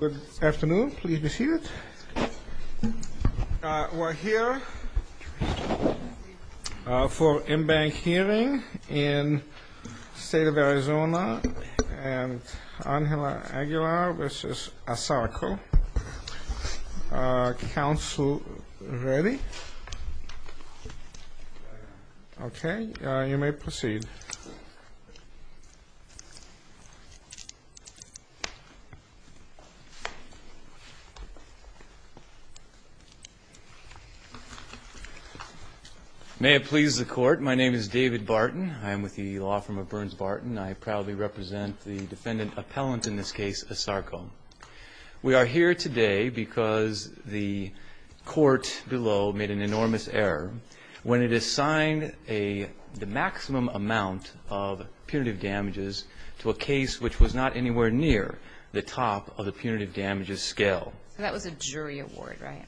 Good afternoon. Please be seated. We're here for in-bank hearing in the State of Arizona and Angela Aguilar v. ASARCO. Council ready? Okay. You may proceed. May it please the Court, my name is David Barton. I am with the law firm of Burns-Barton. I proudly represent the defendant appellant in this case, ASARCO. We are here today because the court below made an enormous error when it assigned the maximum amount of punitive damages to a case which was not anywhere near the top of the punitive damages scale. That was a jury award, right?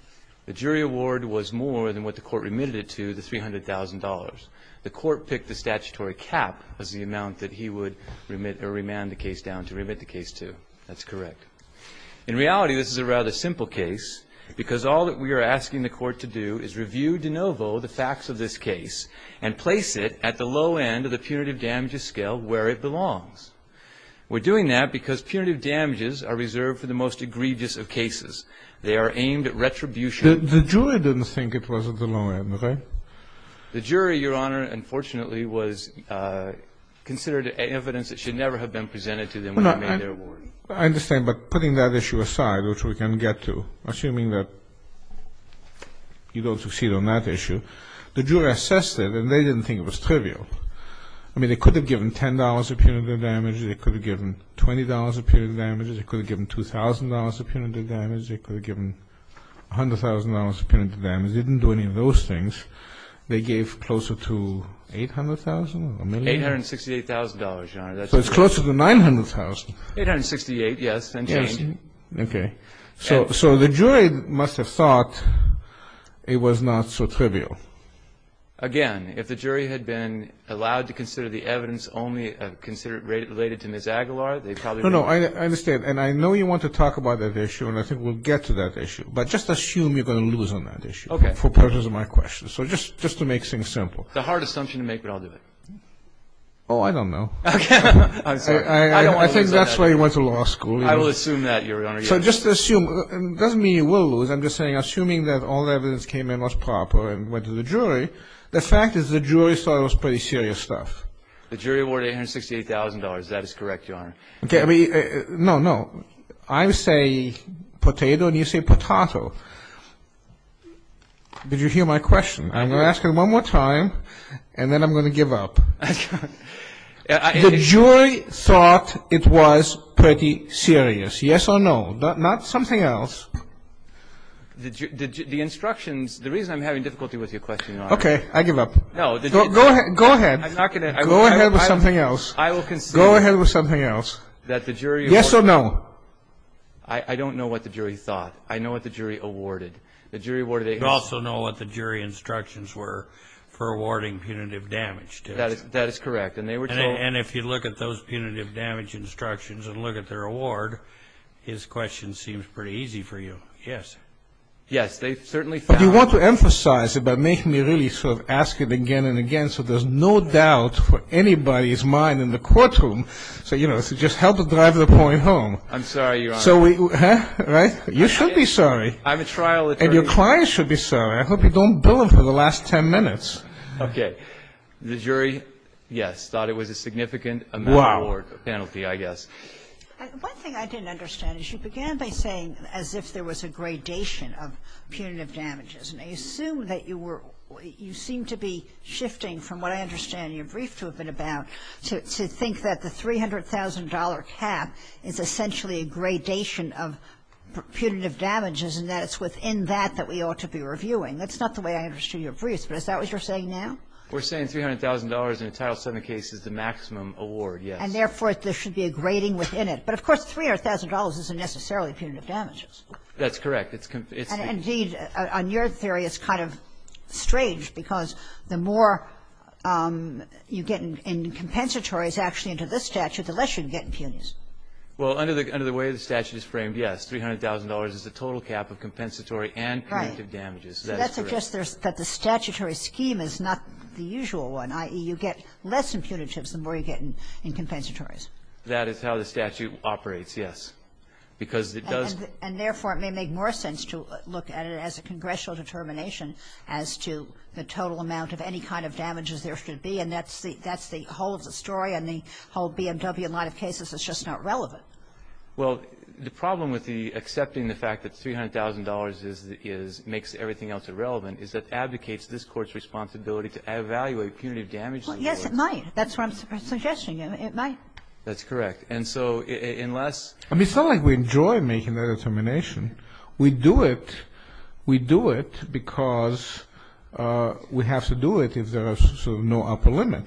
The jury award was more than what the court remitted it to, the $300,000. The court picked the statutory cap as the amount that he would remit or remand the case down to remit the case to. That's correct. In reality, this is a rather simple case because all that we are asking the court to do is review de novo the facts of this case and place it at the low end of the punitive damages scale where it belongs. We're doing that because punitive damages are reserved for the most egregious of cases. They are aimed at retribution. The jury didn't think it was at the low end, right? The jury, Your Honor, unfortunately, considered evidence that should never have been presented to them when they made their award. I understand, but putting that issue aside, which we can get to, assuming that you don't succeed on that issue, the jury assessed it and they didn't think it was trivial. I mean, they could have given $10 a punitive damage. They could have given $20 a punitive damage. They could have given $2,000 a punitive damage. They could have given $100,000 a punitive damage. They didn't do any of those things. They gave closer to $800,000? $868,000, Your Honor. So it's closer to $900,000. $868,000, yes. Okay. So the jury must have thought it was not so trivial. Again, if the jury had been allowed to consider the evidence only related to Ms. Aguilar, they probably would have... No, no, I understand. And I know you want to talk about that issue, and I think we'll get to that issue. But just assume you're going to lose on that issue for purposes of my question. So just to make things simple. It's a hard assumption to make, but I'll do it. Oh, I don't know. I think that's where you went to law school. I will assume that, Your Honor. So just assume. It doesn't mean you will lose. I'm just saying, assuming that all the evidence came in was proper and went to the jury, the fact is the jury thought it was pretty serious stuff. The jury awarded $868,000. That is correct, Your Honor. No, no. I say potato, and you say potatoe. Did you hear my question? I'm going to ask it one more time, and then I'm going to give up. The jury thought it was pretty serious. Yes or no? Not something else. The instructions... The reason I'm having difficulty with your question, Your Honor... Okay, I give up. Go ahead. I'm not going to... Go ahead with something else. Go ahead with something else. Yes or no? I don't know what the jury thought. I know what the jury awarded. You also know what the jury instructions were for awarding punitive damage. That is correct. And if you look at those punitive damage instructions and look at their award, his question seems pretty easy for you. Yes. Yes, they certainly found... But you want to emphasize it by making me really sort of ask it again and again so there's no doubt for anybody's mind in the courtroom, so, you know, to just help to drive the point home. I'm sorry, Your Honor. Right? You should be sorry. I'm a trial attorney. And your client should be sorry. I hope you don't bill him for the last 10 minutes. Okay. The jury, yes, thought it was a significant amount of work, a penalty, I guess. One thing I didn't understand is you began by saying as if there was a gradation of punitive damages, and I assume that you seemed to be shifting from what I understand your brief to have been about to think that the $300,000 cap is essentially a gradation of punitive damages and that it's within that that we ought to be reviewing. That's not the way I understood your brief, but is that what you're saying now? We're saying $300,000 in a Title VII case is the maximum award, yes. And, therefore, there should be a grading within it. But, of course, $300,000 isn't necessarily punitive damages. That's correct. Indeed, on your theory, it's kind of strange because the more you get in compensatories actually into this statute, the less you can get in punitives. Well, under the way the statute is framed, yes, $300,000 is the total cap of compensatory and punitive damages. You get less in punitives the more you get in compensatories. That is how the statute operates, yes. And, therefore, it may make more sense to look at it as a congressional determination as to the total amount of any kind of damages there should be, and that's the whole of the story on the whole BMW line of cases. It's just not relevant. Well, the problem with accepting the fact that $300,000 makes everything else irrelevant is that advocates this Court's responsibility to evaluate punitive damages. Well, yes, it might. That's what I'm suggesting. It might. That's correct. And, so, unless... I mean, it's not like we enjoy making that determination. We do it because we have to do it if there are sort of no upper limit.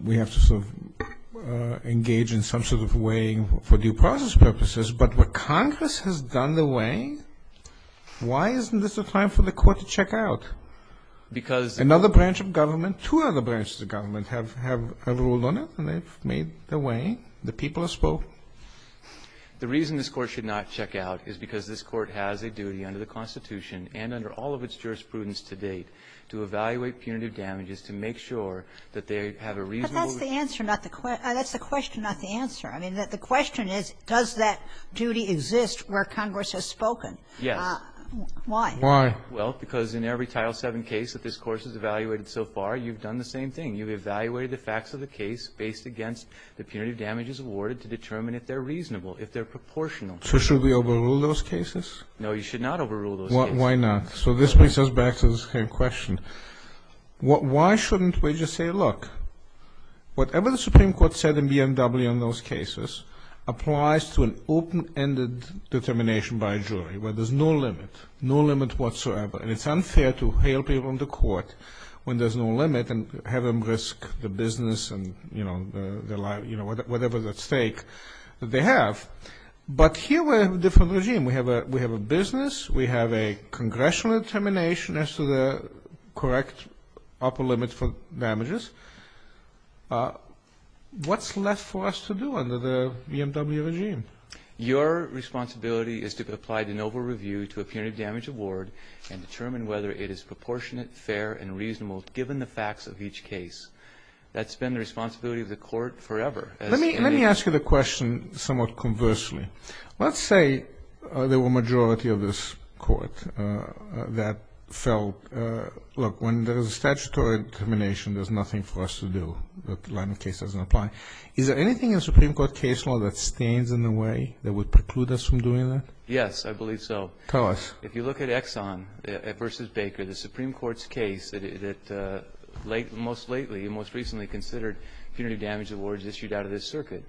We have to sort of engage in some sort of weighing for due process purposes. But what Congress has done the way, why isn't this a time for the Court to check out? Because... Another branch of government, two other branches of government have a rule on it, and they've made their way. The people have spoken. The reason this Court should not check out is because this Court has a duty under the Constitution and under all of its jurisprudence to date to evaluate punitive damages to make sure that they have a reasonable... But that's the answer, not the question. That's the question, not the answer. I mean, the question is, does that duty exist where Congress has spoken? Yes. Why? Why? Well, because in every Title VII case that this Court has evaluated so far, you've done the same thing. You evaluate the facts of the case based against the punitive damages awarded to determine if they're reasonable, if they're proportional. So should we overrule those cases? No, you should not overrule those cases. Why not? So this brings us back to the same question. Why shouldn't we just say, look, whatever the Supreme Court said in BMW in those cases applies to an open-ended determination by a jury where there's no limit, no limit whatsoever. And it's unfair to hail people into court when there's no limit and have them risk the business and, you know, whatever the stake that they have. But here we have a different regime. We have a business. We have a congressional determination as to the correct upper limit for damages. What's left for us to do under the BMW regime? Your responsibility is to apply the noble review to a punitive damage award and determine whether it is proportionate, fair, and reasonable given the facts of each case. That's been the responsibility of the Court forever. Let me ask you the question somewhat conversely. Let's say there were a majority of this Court that felt, look, when there's statutory determination, there's nothing for us to do. The case doesn't apply. Is there anything in the Supreme Court case law that stands in the way that would preclude us from doing that? Yes, I believe so. Tell us. If you look at Exxon v. Baker, the Supreme Court's case, it most recently considered punitive damage awards issued out of this circuit.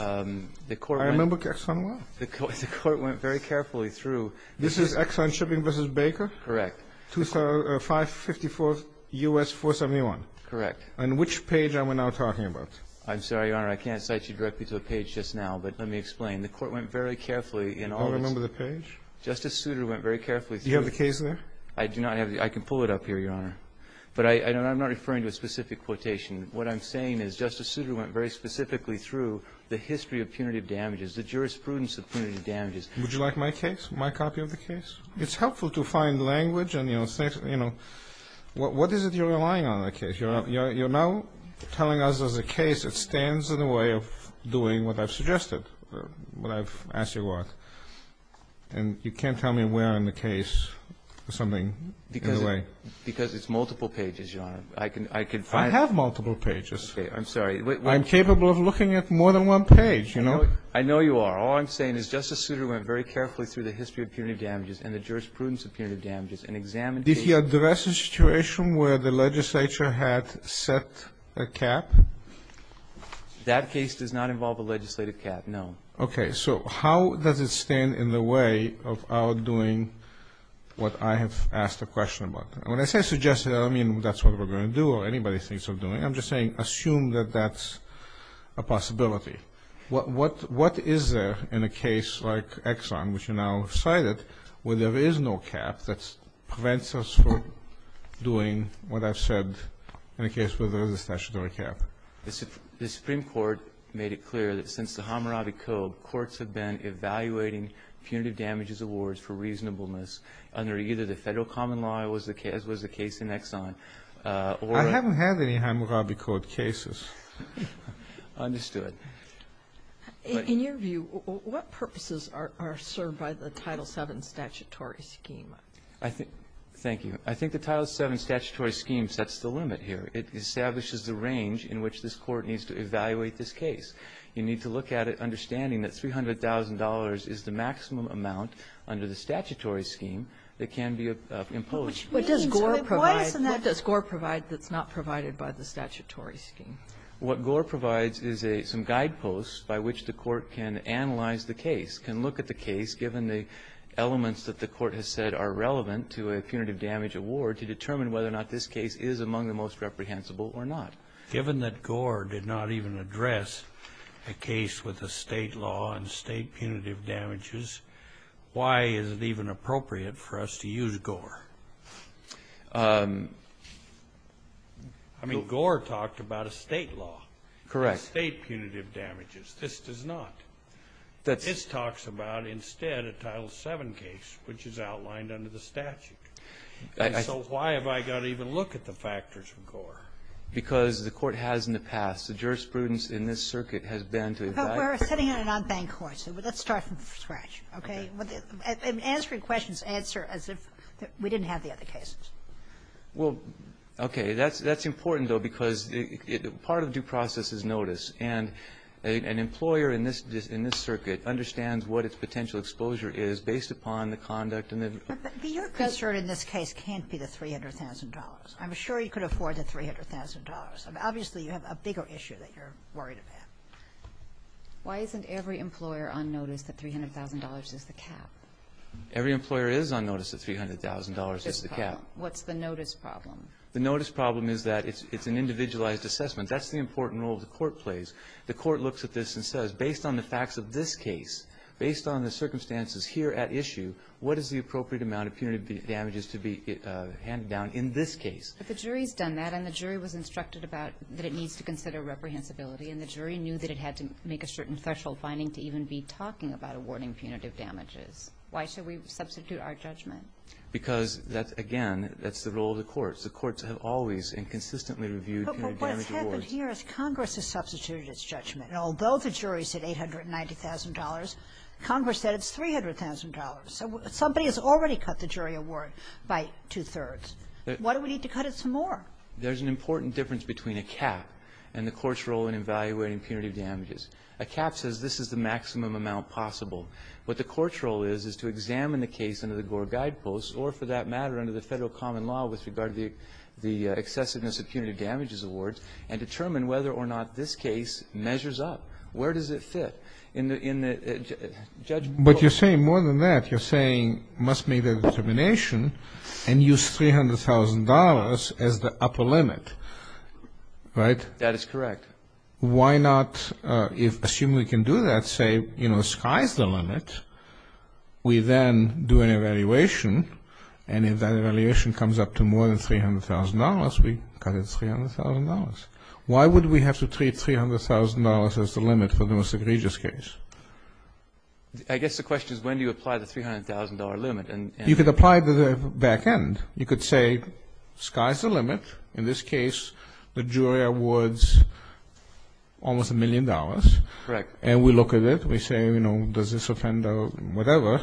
I remember Exxon well. The Court went very carefully through. This is Exxon Shipping v. Baker? Correct. 554 U.S. 471? Correct. And which page are we now talking about? I'm sorry, Your Honor, I can't cite you directly to a page just now, but let me explain. The Court went very carefully in all of this. I don't remember the page. Justice Souter went very carefully through. Do you have the case there? I do not. I can pull it up here, Your Honor. But I'm not referring to a specific quotation. What I'm saying is Justice Souter went very specifically through the history of punitive damages, the jurisprudence of punitive damages. Would you like my case, my copy of the case? It's helpful to find language and, you know, what is it you're relying on in the case? You're now telling us there's a case that stands in the way of doing what I've suggested, what I've asked your work. And you can't tell me where on the case or something, in a way. Because it's multiple pages, Your Honor. I can find it. It's multiple pages. Okay. I'm sorry. I'm capable of looking at more than one page, you know. I know you are. All I'm saying is Justice Souter went very carefully through the history of punitive damages and the jurisprudence of punitive damages and examined the case. Did he address a situation where the legislature had set a cap? That case does not involve a legislative cap, no. Okay. So how does it stand in the way of our doing what I have asked a question about? When I say suggested, I don't mean that's what we're going to do or anybody thinks of doing. I'm just saying assume that that's a possibility. What is there in a case like Exxon, which you now cited, where there is no cap that prevents us from doing what I've said in a case where there is a statutory cap? The Supreme Court made it clear that since the Hammurabi Code, courts have been evaluating punitive damages awards for reasonableness under either the federal common law, as was the case in Exxon. I haven't had any Hammurabi Code cases. Understood. In your view, what purposes are served by the Title VII statutory scheme? Thank you. I think the Title VII statutory scheme sets the limit here. It establishes the range in which this court needs to evaluate this case. You need to look at it understanding that $300,000 is the maximum amount under the statutory scheme that can be imposed. What does Gore provide that's not provided by the statutory scheme? What Gore provides is some guideposts by which the court can analyze the case, can look at the case given the elements that the court has said are relevant to a punitive damage award to determine whether or not this case is among the most reprehensible or not. Given that Gore did not even address a case with a state law and state punitive damages, why is it even appropriate for us to use Gore? I mean, Gore talked about a state law. Correct. State punitive damages. This does not. This talks about instead a Title VII case, which is outlined under the statute. So why have I got to even look at the factors from Gore? Because the court has in the past. The jurisprudence in this circuit has been to evaluate. But we're sitting in a non-bank court, so let's start from scratch, okay? And answer your questions, answer as if we didn't have the other cases. Well, okay. That's important, though, because part of due process is notice, and an employer in this circuit understands what its potential exposure is based upon the conduct. But your pressure in this case can't be the $300,000. I'm sure you could afford the $300,000. Obviously, you have a bigger issue that you're worried about. Why isn't every employer on notice that $300,000 is the cap? Every employer is on notice that $300,000 is the cap. What's the notice problem? The notice problem is that it's an individualized assessment. That's the important role the court plays. The court looks at this and says, based on the facts of this case, based on the circumstances here at issue, what is the appropriate amount of punitive damages to be handed down in this case? But the jury's done that, and the jury was instructed that it needs to consider reprehensibility, and the jury knew that it had to make a certain special finding to even be talking about awarding punitive damages. Why should we substitute our judgment? Because, again, that's the role of the courts. The courts have always and consistently reviewed punitive damage awards. But what has happened here is Congress has substituted its judgment. Although the jury said $890,000, Congress said it's $300,000. Somebody has already cut the jury award by two-thirds. Why do we need to cut it some more? There's an important difference between a cap and the court's role in evaluating punitive damages. A cap says this is the maximum amount possible. What the court's role is is to examine the case under the Gore Guideposts or, for that matter, under the federal common law with regard to the excessiveness of punitive damages awards and determine whether or not this case measures up. Where does it fit? But you're saying more than that. You're saying it must meet a determination and use $300,000 as the upper limit, right? That is correct. Why not assume we can do that, say, you know, sky's the limit. We then do an evaluation, and if that evaluation comes up to more than $300,000, we cut it to $300,000. Why would we have to treat $300,000 as the limit for the most egregious case? I guess the question is when do you apply the $300,000 limit? You could apply it to the back end. You could say sky's the limit. In this case, the jury awards almost a million dollars. Correct. And we look at it. We say, you know, does this offend or whatever.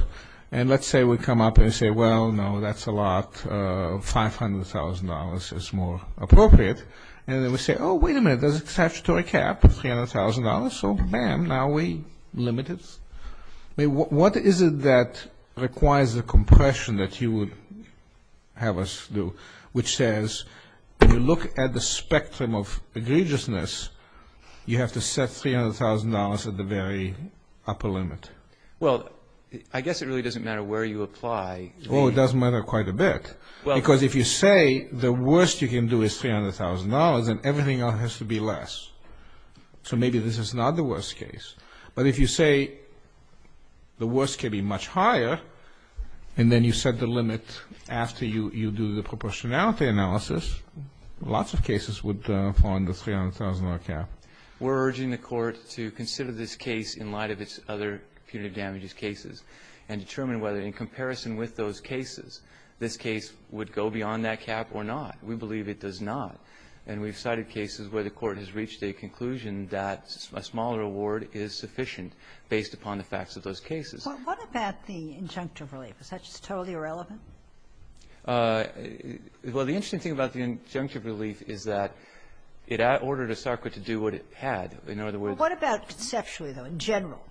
And let's say we come up and say, well, no, that's a lot. $500,000 is more appropriate. And then we say, oh, wait a minute, there's a statutory cap of $300,000. So, man, now we limit it. What is it that requires the compression that you would have us do, which says when you look at the spectrum of egregiousness, you have to set $300,000 at the very upper limit? Well, I guess it really doesn't matter where you apply. Well, it does matter quite a bit. Because if you say the worst you can do is $300,000, then everything else has to be less. So maybe this is not the worst case. But if you say the worst can be much higher, and then you set the limit after you do the proportionality analysis, lots of cases would fall under the $300,000 cap. We're urging the court to consider this case in light of its other punitive damages cases and determine whether in comparison with those cases, this case would go beyond that cap or not. We believe it does not. And we've cited cases where the court has reached a conclusion that a smaller award is sufficient based upon the facts of those cases. What about the injunctive relief? Is that just totally irrelevant? Well, the interesting thing about the injunctive relief is that it ordered ISARCA to do what it had. What about sexually, though, in general?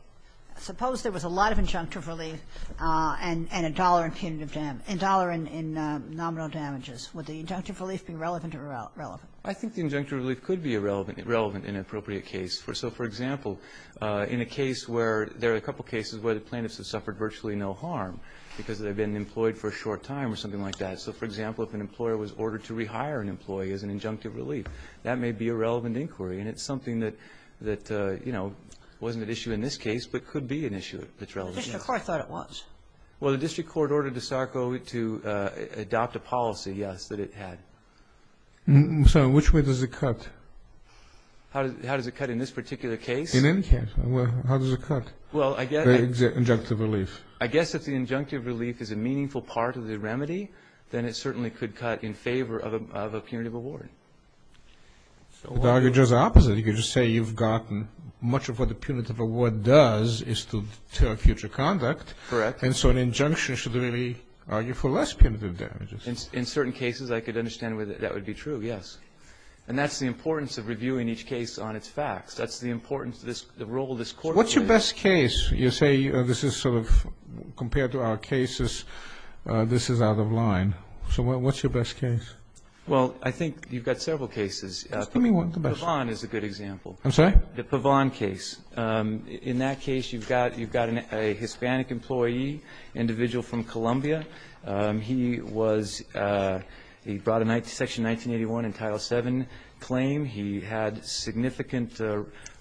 Suppose there was a lot of injunctive relief and a dollar in nominal damages. Would the injunctive relief be relevant or irrelevant? I think the injunctive relief could be relevant in an appropriate case. So, for example, in a case where there are a couple of cases where the plaintiff has suffered virtually no harm because they've been employed for a short time or something like that. So, for example, if an employer was ordered to rehire an employee as an injunctive relief, that may be a relevant inquiry. And it's something that, you know, wasn't an issue in this case but could be an issue that's relevant. The district court thought it was. Well, the district court ordered ISARCA to adopt a policy, yes, that it had. So which way does it cut? How does it cut in this particular case? In any case, how does it cut the injunctive relief? I guess if the injunctive relief is a meaningful part of the remedy, then it certainly could cut in favor of a punitive award. The arguments are opposite. You could just say you've gotten much of what the punitive award does is to deter future conduct. Correct. And so an injunction should really argue for less punitive damages. In certain cases, I could understand where that would be true, yes. And that's the importance of reviewing each case on its facts. That's the importance of the role this court plays. What's your best case? You say this is sort of compared to our cases, this is out of line. So what's your best case? Well, I think you've got several cases. Give me one. The Pavon is a good example. I'm sorry? The Pavon case. In that case, you've got a Hispanic employee, individual from Columbia. He was brought in Section 1981 in Title VII claim. He had significant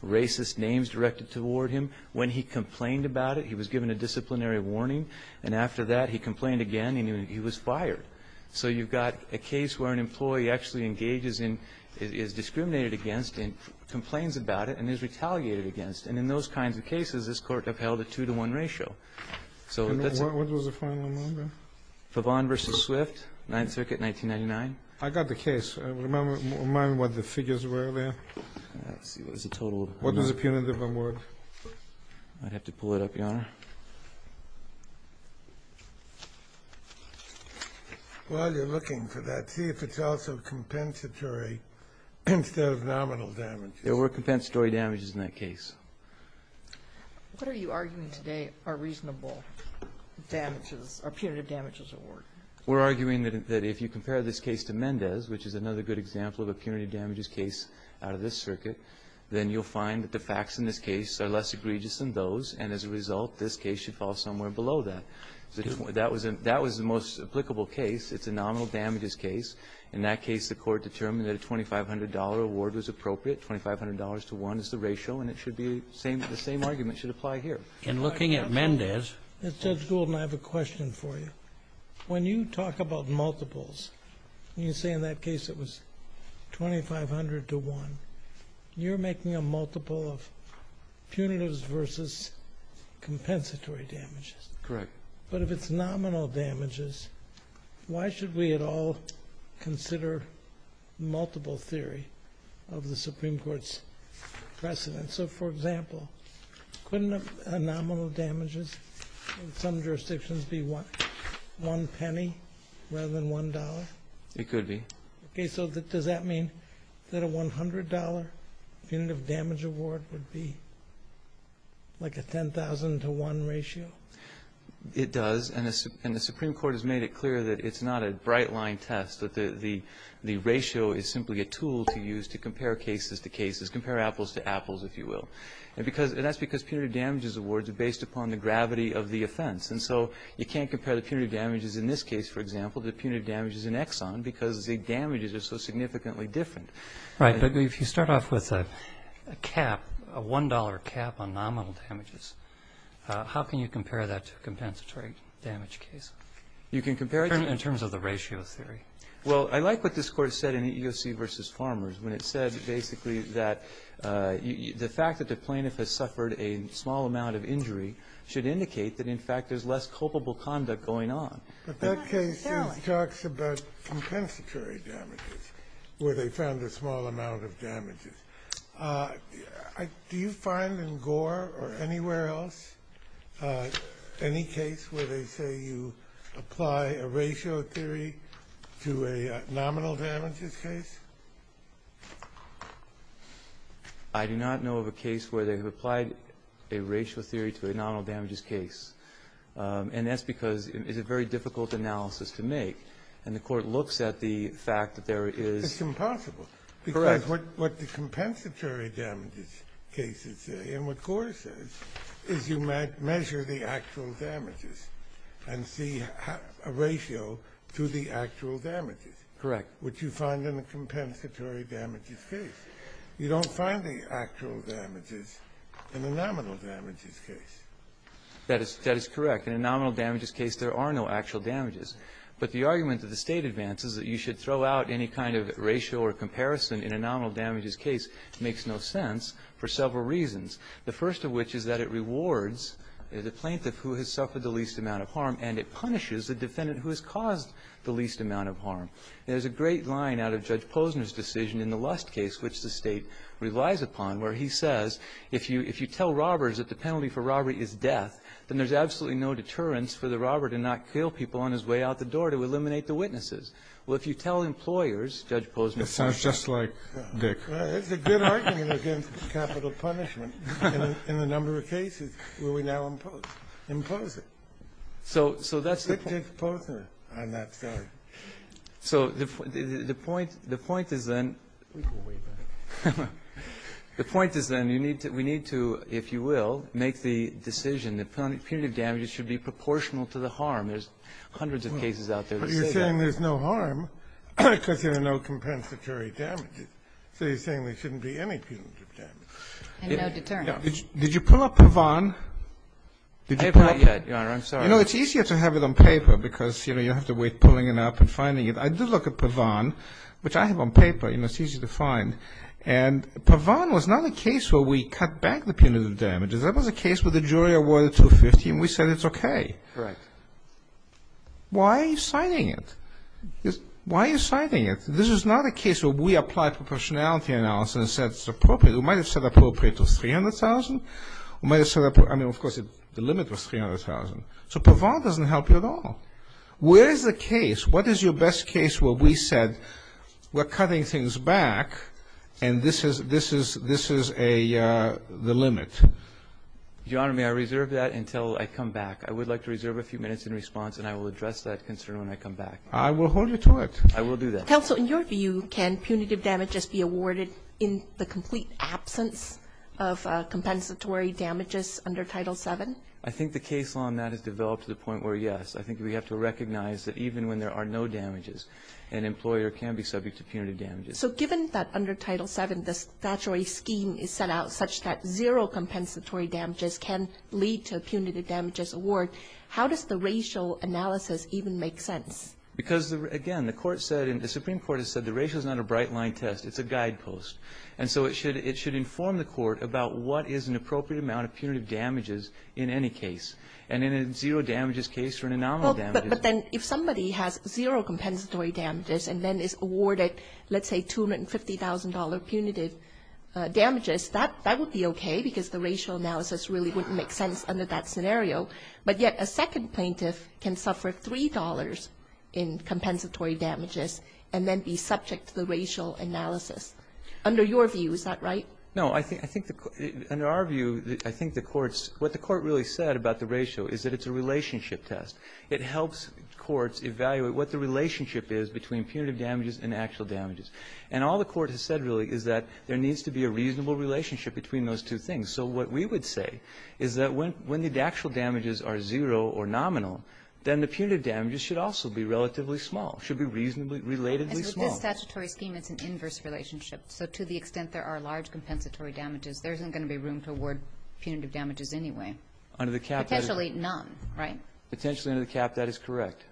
racist names directed toward him. When he complained about it, he was given a disciplinary warning. And after that, he complained again, and he was fired. So you've got a case where an employee actually engages in, is discriminated against, and complains about it, and is retaliated against. And in those kinds of cases, this court upheld a two-to-one ratio. What was the final number? Pavon v. Swift, 9th Circuit, 1999. I got the case. Remind me what the figures were there. What were the punitive awards? I'd have to pull it up, Your Honor. Well, you're looking for that. See if it's also compensatory, since there's nominal damage. There were compensatory damages in that case. What are you arguing today are reasonable damages, or punitive damages award? We're arguing that if you compare this case to Mendez, which is another good example of a punitive damages case out of this circuit, then you'll find that the facts in this case are less egregious than those, and as a result, this case should fall somewhere below that. That was the most applicable case. It's a nominal damages case. In that case, the court determined that a $2,500 award was appropriate. $2,500 to one is the ratio, and the same argument should apply here. In looking at Mendez, Judge Goldman, I have a question for you. When you talk about multiples, you say in that case it was $2,500 to one. You're making a multiple of punitives versus compensatory damages. Correct. But if it's nominal damages, why should we at all consider multiple theory of the Supreme Court's precedent? For example, couldn't a nominal damages in some jurisdictions be one penny rather than one dollar? It could be. Does that mean that a $100 punitive damages award would be like a $10,000 to one ratio? It does, and the Supreme Court has made it clear that it's not a bright-line test, that the ratio is simply a tool to use to compare cases to cases, compare apples to apples, if you will. And that's because punitive damages awards are based upon the gravity of the offense, and so you can't compare the punitive damages in this case, for example, to the punitive damages in Exxon because the damages are so significantly different. Right, but if you start off with a cap, a $1 cap on nominal damages, how can you compare that to a compensatory damage case in terms of the ratio theory? Well, I like what this Court said in EEOC v. Farmers, when it said basically that the fact that the plaintiff has suffered a small amount of injury should indicate that, in fact, there's less culpable conduct going on. But that case talks about compensatory damages, where they found a small amount of damages. Do you find in Gore or anywhere else, any case where they say you apply a ratio theory to a nominal damages case? I do not know of a case where they've applied a ratio theory to a nominal damages case, and that's because it's a very difficult analysis to make, and the Court looks at the fact that there is— It's impossible. Correct. Because what the compensatory damages cases say, and what Gore says, is you measure the actual damages and see a ratio to the actual damages. Correct. Which you find in a compensatory damages case. You don't find the actual damages in a nominal damages case. That is correct. In a nominal damages case, there are no actual damages. But the argument that the State advances, that you should throw out any kind of ratio or comparison in a nominal damages case, makes no sense for several reasons. The first of which is that it rewards the plaintiff who has suffered the least amount of harm, and it punishes the defendant who has caused the least amount of harm. There's a great line out of Judge Posner's decision in the Lust case, which the State relies upon, where he says, if you tell robbers that the penalty for robbery is death, then there's absolutely no deterrence for the robber to not kill people on his way out the door to eliminate the witnesses. Well, if you tell employers, Judge Posner— It sounds just like Dick. It's a good argument against capital punishment in a number of cases where we now impose it. So that's the point. It's Posner on that side. So the point is then— The point is then we need to, if you will, make the decision that punitive damages should be proportional to the harm. There's hundreds of cases out there that say that. But you're saying there's no harm, except there are no compensatory damages. So you're saying there shouldn't be any punitive damages. And no deterrence. Did you pull up Pavan? I have not yet, Your Honor. I'm sorry. I know it's easier to have it on paper because, you know, you don't have to wait pulling it up and finding it. I did look at Pavan, which I have on paper. You know, it's easy to find. And Pavan was not a case where we cut back the punitive damages. That was a case where the jury awarded 250, and we said it's okay. Correct. Why are you citing it? Why are you citing it? This is not a case where we applied for proportionality analysis and said it's appropriate. We might have said appropriate was $300,000. We might have said—I mean, of course, the limit was $300,000. So Pavan doesn't help you at all. Where is the case? What is your best case where we said we're cutting things back, and this is the limit? Your Honor, may I reserve that until I come back? I would like to reserve a few minutes in response, and I will address that concern when I come back. I will hold you to it. I will do that. Counsel, in your view, can punitive damages be awarded in the complete absence of compensatory damages under Title VII? I think the case on that has developed to the point where, yes. I think we have to recognize that even when there are no damages, an employer can be subject to punitive damages. So given that under Title VII, the statutory scheme is set out such that zero compensatory damages can lead to a punitive damages award, how does the racial analysis even make sense? Because, again, the Supreme Court has said the racial is not a bright-line test. It's a guidepost. And so it should inform the court about what is an appropriate amount of punitive damages in any case. And in a zero damages case or an anomalous damages case— But then if somebody has zero compensatory damages and then is awarded, let's say, $250,000 punitive damages, that would be okay because the racial analysis really wouldn't make sense under that scenario. But yet a second plaintiff can suffer $3 in compensatory damages and then be subject to the racial analysis. Under your view, is that right? No. Under our view, I think what the court really said about the ratio is that it's a relationship test. It helps courts evaluate what the relationship is between punitive damages and actual damages. And all the court has said, really, is that there needs to be a reasonable relationship between those two things. And so what we would say is that when the actual damages are zero or nominal, then the punitive damages should also be relatively small, should be relatively small. And the statutory scheme is an inverse relationship. So to the extent there are large compensatory damages, there isn't going to be room to award punitive damages anyway. Under the cap— Potentially none, right? Potentially under the cap, that is correct.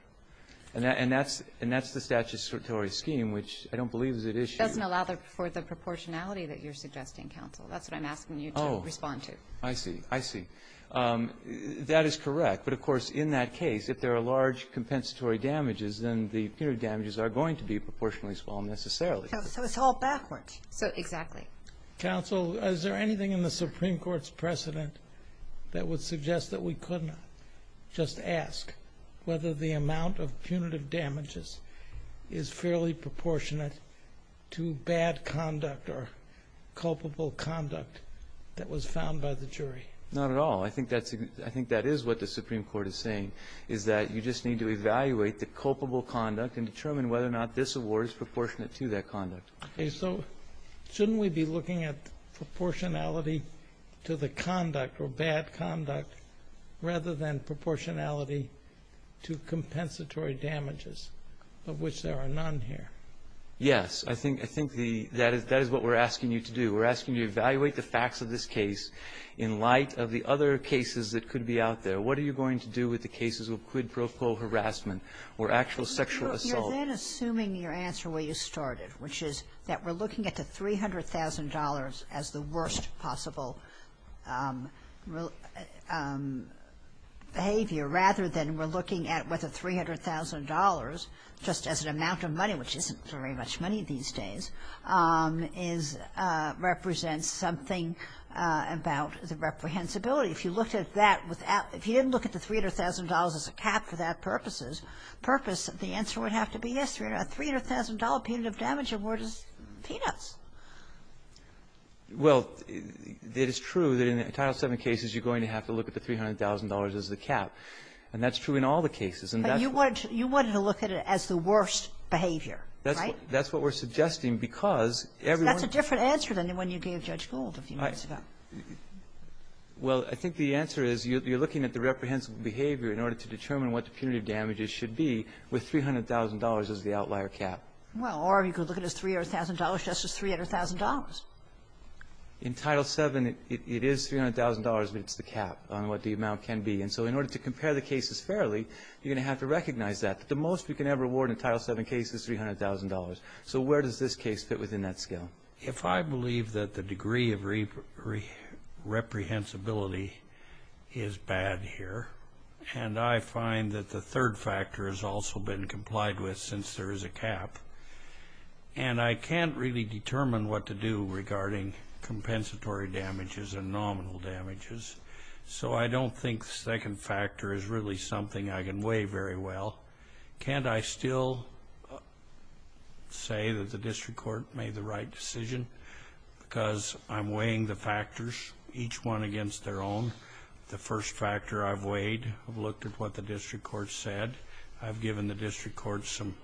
And that's the statutory scheme, which I don't believe is at issue. It doesn't allow for the proportionality that you're suggesting, counsel. That's what I'm asking you to respond to. I see. I see. That is correct. But, of course, in that case, if there are large compensatory damages, then the punitive damages are going to be proportionally small, necessarily. So it's all backwards. Exactly. Counsel, is there anything in the Supreme Court's precedent that would suggest that we could not just ask whether the amount of punitive damages is fairly proportionate to bad conduct or culpable conduct that was found by the jury? Not at all. I think that is what the Supreme Court is saying, is that you just need to evaluate the culpable conduct and determine whether or not this award is proportionate to that conduct. Shouldn't we be looking at proportionality to the conduct or bad conduct rather than proportionality to compensatory damages, of which there are none here? Yes. I think that is what we're asking you to do. We're asking you to evaluate the facts of this case in light of the other cases that could be out there. What are you going to do with the cases of quid pro quo harassment or actual sexual assault? You're then assuming your answer where you started, which is that we're looking at the $300,000 as the worst possible behavior rather than we're looking at whether $300,000, just as an amount of money, which isn't very much money these days, represents something about the reprehensibility. If you didn't look at the $300,000 as a cap for that purpose, the answer would have to be yes, a $300,000 punitive damage award is peanuts. Well, it is true that in a total of seven cases you're going to have to look at the $300,000 as a cap. And that's true in all the cases. But you wanted to look at it as the worst behavior, right? That's what we're suggesting because everyone... That's a different answer than when you're being judged gullible. Well, I think the answer is you're looking at the reprehensible behavior in order to determine what the punitive damages should be with $300,000 as the outlier cap. Well, or you could look at it as $300,000 just as $300,000. In Title VII, it is $300,000, but it's the cap on what the amount can be. And so in order to compare the cases fairly, you're going to have to recognize that. The most you can ever award in a Title VII case is $300,000. So where does this case fit within that scale? If I believe that the degree of reprehensibility is bad here, and I find that the third factor has also been complied with since there is a cap, and I can't really determine what to do regarding compensatory damages and nominal damages, so I don't think the second factor is really something I can weigh very well, can't I still say that the district court made the right decision? Because I'm weighing the factors, each one against their own. The first factor I've weighed, I've looked at what the district court said. I've given the district court some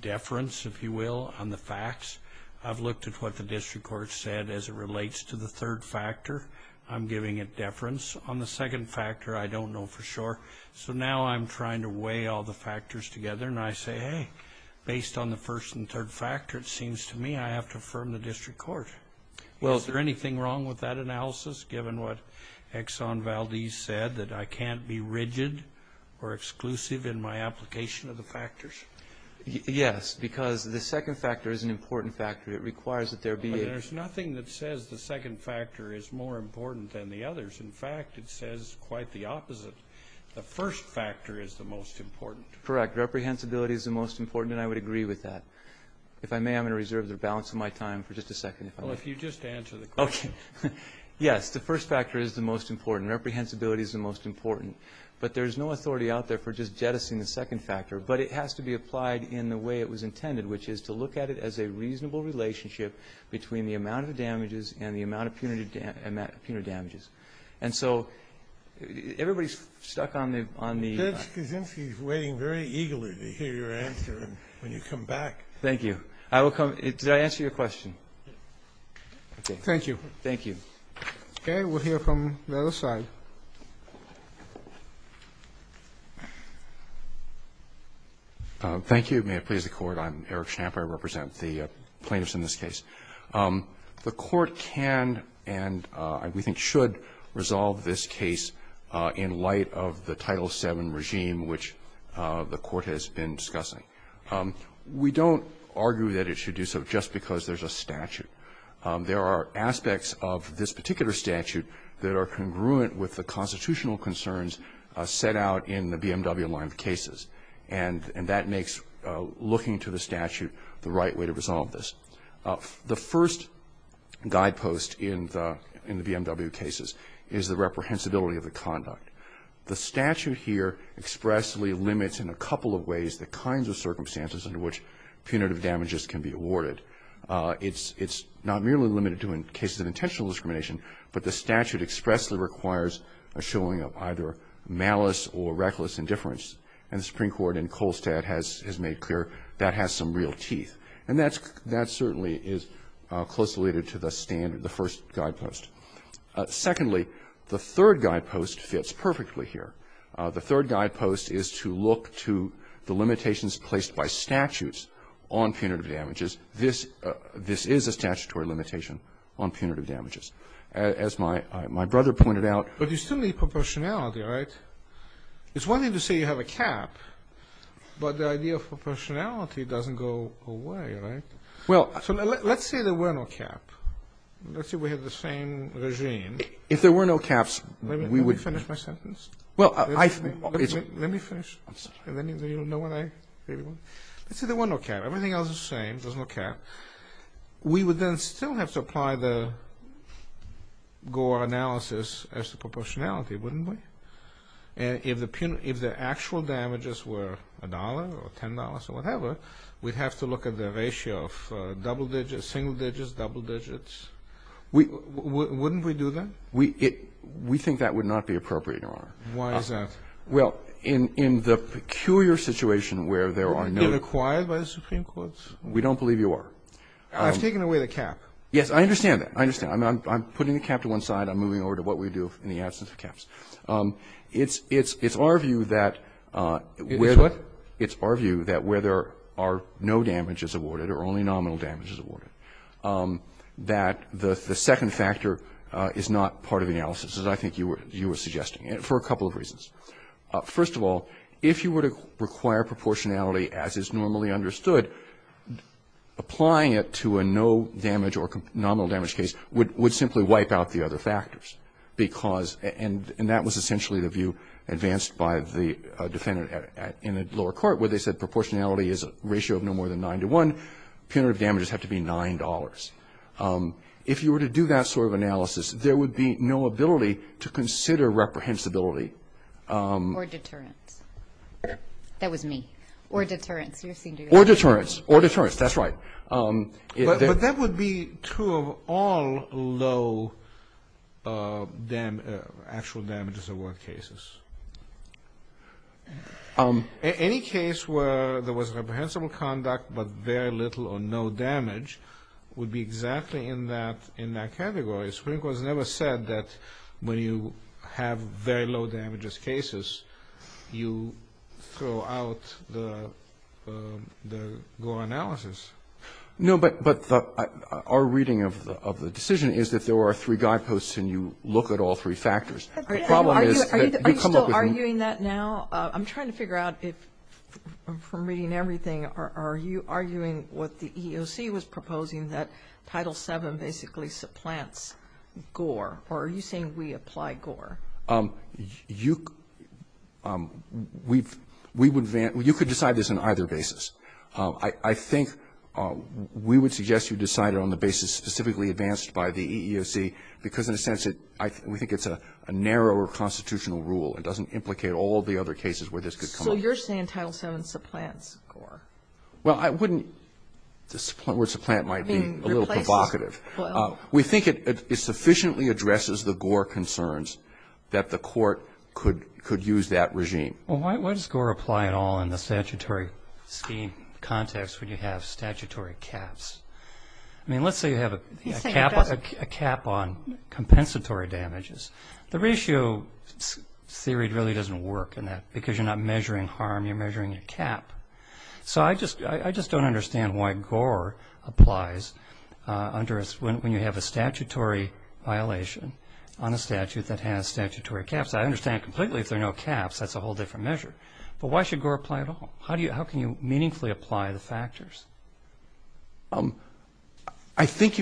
deference, if you will, on the facts. I've looked at what the district court said as it relates to the third factor. I'm giving it deference. On the second factor, I don't know for sure. So now I'm trying to weigh all the factors together, and I say, hey, based on the first and third factor, it seems to me I have to affirm the district court. Well, is there anything wrong with that analysis, given what Exxon Valdez said, that I can't be rigid or exclusive in my application of the factors? Yes, because the second factor is an important factor. It requires that there be a... But there's nothing that says the second factor is more important than the others. In fact, it says quite the opposite. The first factor is the most important. Correct. Reprehensibility is the most important, and I would agree with that. If I may, I'm going to reserve the balance of my time for just a second. Well, if you'd just answer the question. Okay. Yes, the first factor is the most important. Reprehensibility is the most important. But there's no authority out there for just jettisoning the second factor. But it has to be applied in the way it was intended, which is to look at it as a reasonable relationship between the amount of damages and the amount of punitive damages. And so everybody's stuck on the... Judge Kavinsky is waiting very eagerly to hear your answer when you come back. Thank you. Did I answer your question? Thank you. Thank you. Okay, we'll hear from the other side. Thank you. May it please the Court. I'm Eric Schnapper. I represent the plaintiffs in this case. The Court can and we think should resolve this case in light of the Title VII regime, which the Court has been discussing. We don't argue that it should do so just because there's a statute. There are aspects of this particular statute that are congruent with the constitutional concerns set out in the BMW line of cases. And that makes looking to the statute the right way to resolve this. The first guidepost in the BMW cases is the reprehensibility of the conduct. The statute here expressly limits in a couple of ways the kinds of circumstances in which punitive damages can be awarded. It's not merely limited to in cases of intentional discrimination, but the statute expressly requires a showing of either malice or reckless indifference. And the Supreme Court in Kolstad has made clear that has some real teeth. And that certainly is closely related to the first guidepost. Secondly, the third guidepost fits perfectly here. The third guidepost is to look to the limitations placed by statutes on punitive damages. This is a statutory limitation on punitive damages. As my brother pointed out... But you still need proportionality, right? It's one thing to say you have a cap, but the idea of proportionality doesn't go away, right? Well, let's say there were no cap. Let's say we have the same regime. If there were no caps, we would... Let me finish my sentence. Well, I... Let me finish. I'm sorry. You don't know what I really want? Let's say there was no cap. Everything else is the same. There's no cap. We would then still have to apply the Gore analysis as to proportionality, wouldn't we? If the actual damages were $1 or $10 or whatever, we'd have to look at the ratio of double digits, single digits, double digits. Wouldn't we do that? We think that would not be appropriate, Your Honor. Why is that? Well, in the peculiar situation where there are no... Are we being acquired by the Supreme Court? We don't believe you are. I've taken away the cap. Yes, I understand that. I understand. I'm putting the cap to one side. I'm moving over to what we do in the absence of caps. It's our view that... It's what? It's our view that where there are no damages awarded or only nominal damages awarded, that the second factor is not part of the analysis, as I think you were suggesting, for a couple of reasons. First of all, if you were to require proportionality as is normally understood, applying it to a no-damage or nominal-damage case would simply wipe out the other factors, and that was essentially the view advanced by the defendant in the lower court, where they said proportionality is a ratio of no more than 9 to 1. Punitive damages have to be $9. If you were to do that sort of analysis, there would be no ability to consider reprehensibility. Or deterrence. That was me. Or deterrence. Or deterrence. Or deterrence. That's right. But that would be true of all low actual damages award cases. Any case where there was reprehensible conduct but very little or no damage would be exactly in that category. The Supreme Court has never said that when you have very low damages cases, you throw out the lower analysis. No, but our reading of the decision is that there are three guideposts and you look at all three factors. Are you still arguing that now? I'm trying to figure out if, from reading everything, are you arguing what the EEOC was proposing, that Title VII basically supplants GORE, or are you saying we apply GORE? You could decide this on either basis. I think we would suggest you decide it on the basis specifically advanced by the EEOC, because, in a sense, we think it's a narrower constitutional rule. It doesn't implicate all the other cases where this could come up. So you're saying Title VII supplants GORE? Well, I wouldn't. The point where supplant might be a little provocative. We think it sufficiently addresses the GORE concerns that the court could use that regime. Well, why does GORE apply at all in the statutory scheme context when you have statutory caps? I mean, let's say you have a cap on compensatory damages. The ratio theory really doesn't work in that, because you're not measuring harm, you're measuring a cap. So I just don't understand why GORE applies when you have a statutory violation on a statute that has statutory caps. I understand completely if there are no caps, that's a whole different measure. But why should GORE apply at all? How can you meaningfully apply the factors? I think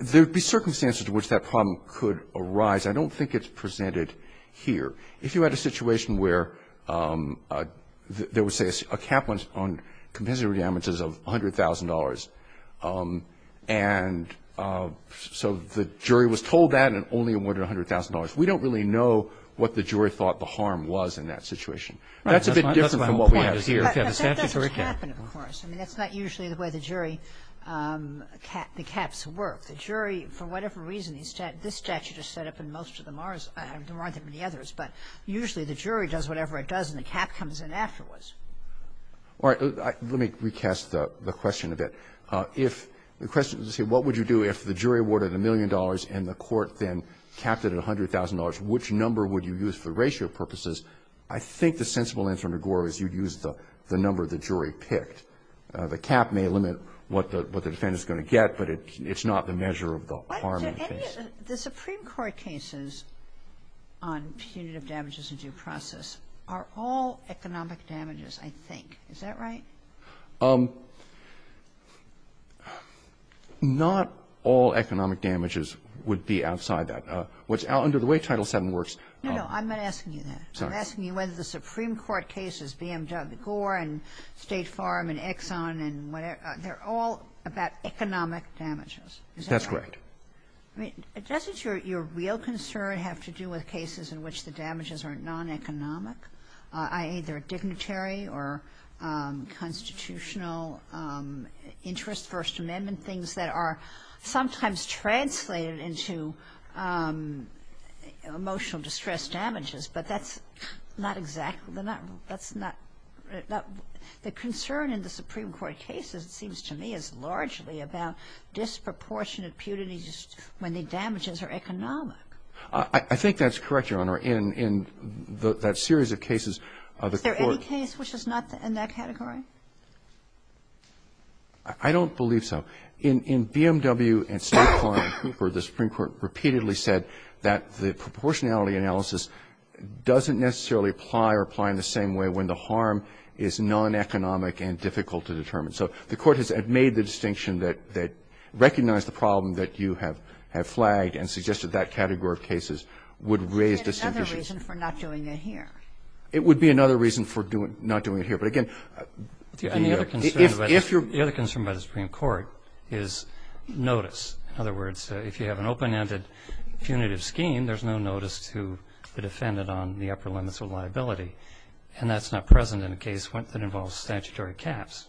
there would be circumstances in which that problem could arise. I don't think it's presented here. If you had a situation where there was, say, a cap on compensatory damages of $100,000, and so the jury was told that and only awarded $100,000, we don't really know what the jury thought the harm was in that situation. That's a bit different from what we have here. That doesn't happen, of course. I mean, that's not usually the way the jury caps work. The jury, for whatever reason, this statute is set up in most of the Mars, the Mars and the others, but usually the jury does whatever it does and the cap comes in afterwards. All right. Let me recast the question a bit. If the question was to say what would you do if the jury awarded a million dollars and the court then capped it at $100,000, which number would you use for ratio purposes? I think the sensible answer, McGraw, is you'd use the number the jury picked. The cap may limit what the defendant is going to get, but it's not the measure of the harm. The Supreme Court cases on punitive damages and due process are all economic damages, I think. Is that right? Not all economic damages would be outside that. No, I'm not asking you that. I'm asking you whether the Supreme Court cases, be them Douglas Gore and State Farm and Exxon and whatever, they're all about economic damages. That's correct. Doesn't your real concern have to do with cases in which the damages are non-economic, i.e. they're dignitary or constitutional interest, First Amendment, and things that are sometimes translated into emotional distress damages, but that's not exactly the matter. The concern in the Supreme Court cases, it seems to me, is largely about disproportionate punities when the damages are economic. I think that's correct, Your Honor. In that series of cases, the court- Is there any case which is not in that category? I don't believe so. In BMW and Smart Car and Cooper, the Supreme Court repeatedly said that the proportionality analysis doesn't necessarily apply or apply in the same way when the harm is non-economic and difficult to determine. So the court has made the distinction that recognize the problem that you have flagged and suggested that category of cases would raise this interest. It would be another reason for not doing it here. It would be another reason for not doing it here. The other concern by the Supreme Court is notice. In other words, if you have an open-ended punitive scheme, there's no notice to the defendant on the upper limits of liability, and that's not present in a case that involves statutory caps.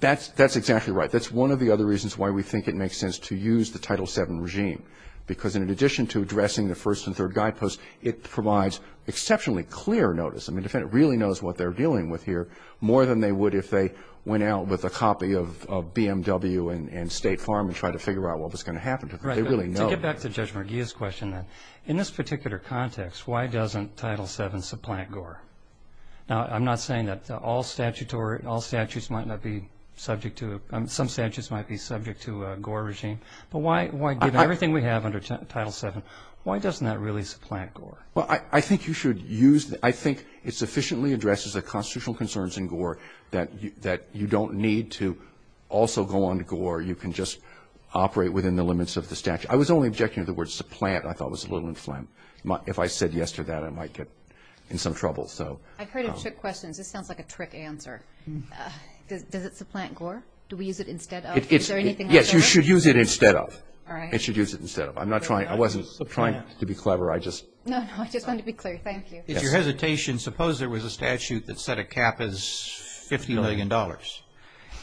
That's exactly right. That's one of the other reasons why we think it makes sense to use the Title VII regime because in addition to addressing the First and Third Guideposts, it provides exceptionally clear notice. I mean, the defendant really knows what they're dealing with here more than they would if they went out with a copy of BMW and State Farm and tried to figure out what was going to happen to them. They really know. To get back to Judge Merguia's question, in this particular context, why doesn't Title VII supplant GORE? I'm not saying that all statutes might not be subject to it. Some statutes might be subject to a GORE regime. But why, given everything we have under Title VII, why does it not really supplant GORE? Well, I think you should use it. I think it sufficiently addresses the constitutional concerns in GORE that you don't need to also go on to GORE. You can just operate within the limits of the statute. I was only objecting to the word supplant. I thought it was a little inflent. If I said yes to that, I might get in some trouble. I've heard of trick questions. This sounds like a trick answer. Does it supplant GORE? Do we use it instead of? Yes, you should use it instead of. I should use it instead of. I'm not trying to be clever. No, you're trying to be clear. Thank you. If you're hesitating, suppose there was a statute that set a cap as $50 million.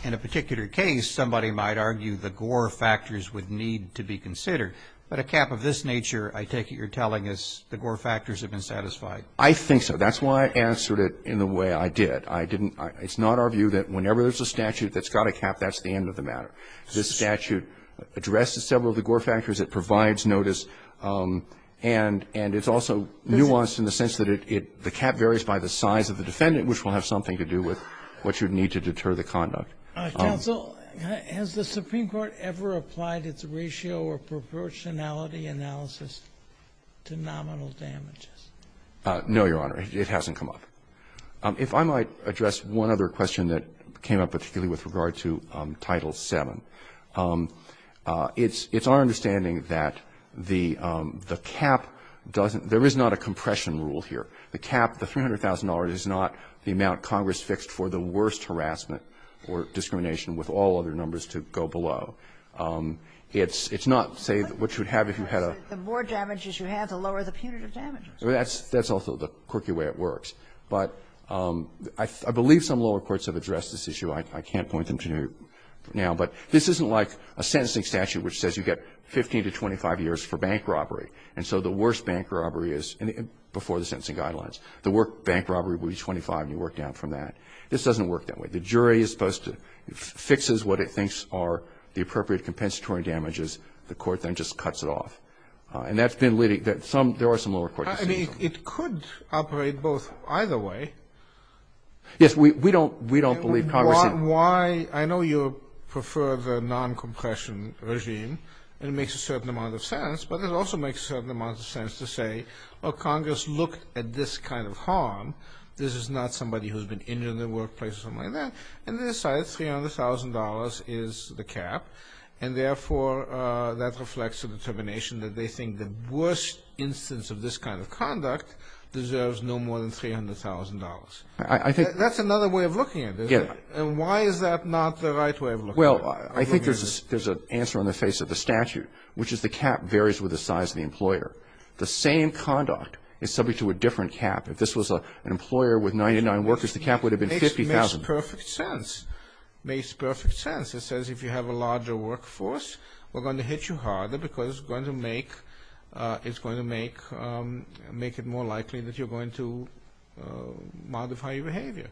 In a particular case, somebody might argue the GORE factors would need to be considered. But a cap of this nature, I take it you're telling us the GORE factors have been satisfied. I think so. That's why I answered it in the way I did. It's not our view that whenever there's a statute that's got a cap, that's the end of the matter. This statute addresses several of the GORE factors. It provides notice. And it's also nuanced in the sense that the cap varies by the size of the defendant, which will have something to do with what you need to deter the conduct. Counsel, has the Supreme Court ever applied its ratio or proportionality analysis to nominal damages? No, Your Honor. It hasn't come up. If I might address one other question that came up particularly with regard to Title VII. It's our understanding that the cap doesn't – there is not a compression rule here. The cap, the $300,000 is not the amount Congress fixed for the worst harassment or discrimination with all other numbers to go below. It's not, say, what you would have if you had a – The more damages you have, the lower the punitive damages. That's also the quirky way it works. But I believe some lower courts have addressed this issue. I can't point them to you now. But this isn't like a sentencing statute which says you get 15 to 25 years for bank robbery. And so the worst bank robbery is before the sentencing guidelines. The worst bank robbery would be 25, and you work down from that. This doesn't work that way. The jury is supposed to – fixes what it thinks are the appropriate compensatory damages. The court then just cuts it off. And that's been leading – there are some lower courts. I mean, it could operate both – either way. Yes, we don't believe Congress – Why – I know you prefer the non-compression regime, and it makes a certain amount of sense. But it also makes a certain amount of sense to say, well, Congress looked at this kind of harm. This is not somebody who has been injured in the workplace or something like that. And they decide $300,000 is the cap. And, therefore, that reflects a determination that they think the worst instance of this kind of conduct deserves no more than $300,000. That's another way of looking at it. And why is that not the right way of looking at it? Well, I think there's an answer on the face of the statute, which is the cap varies with the size of the employer. The same conduct is subject to a different cap. If this was an employer with 99 workers, the cap would have been $50,000. It makes perfect sense. It makes perfect sense. It says if you have a larger workforce, we're going to hit you harder because it's going to make – modify your behavior.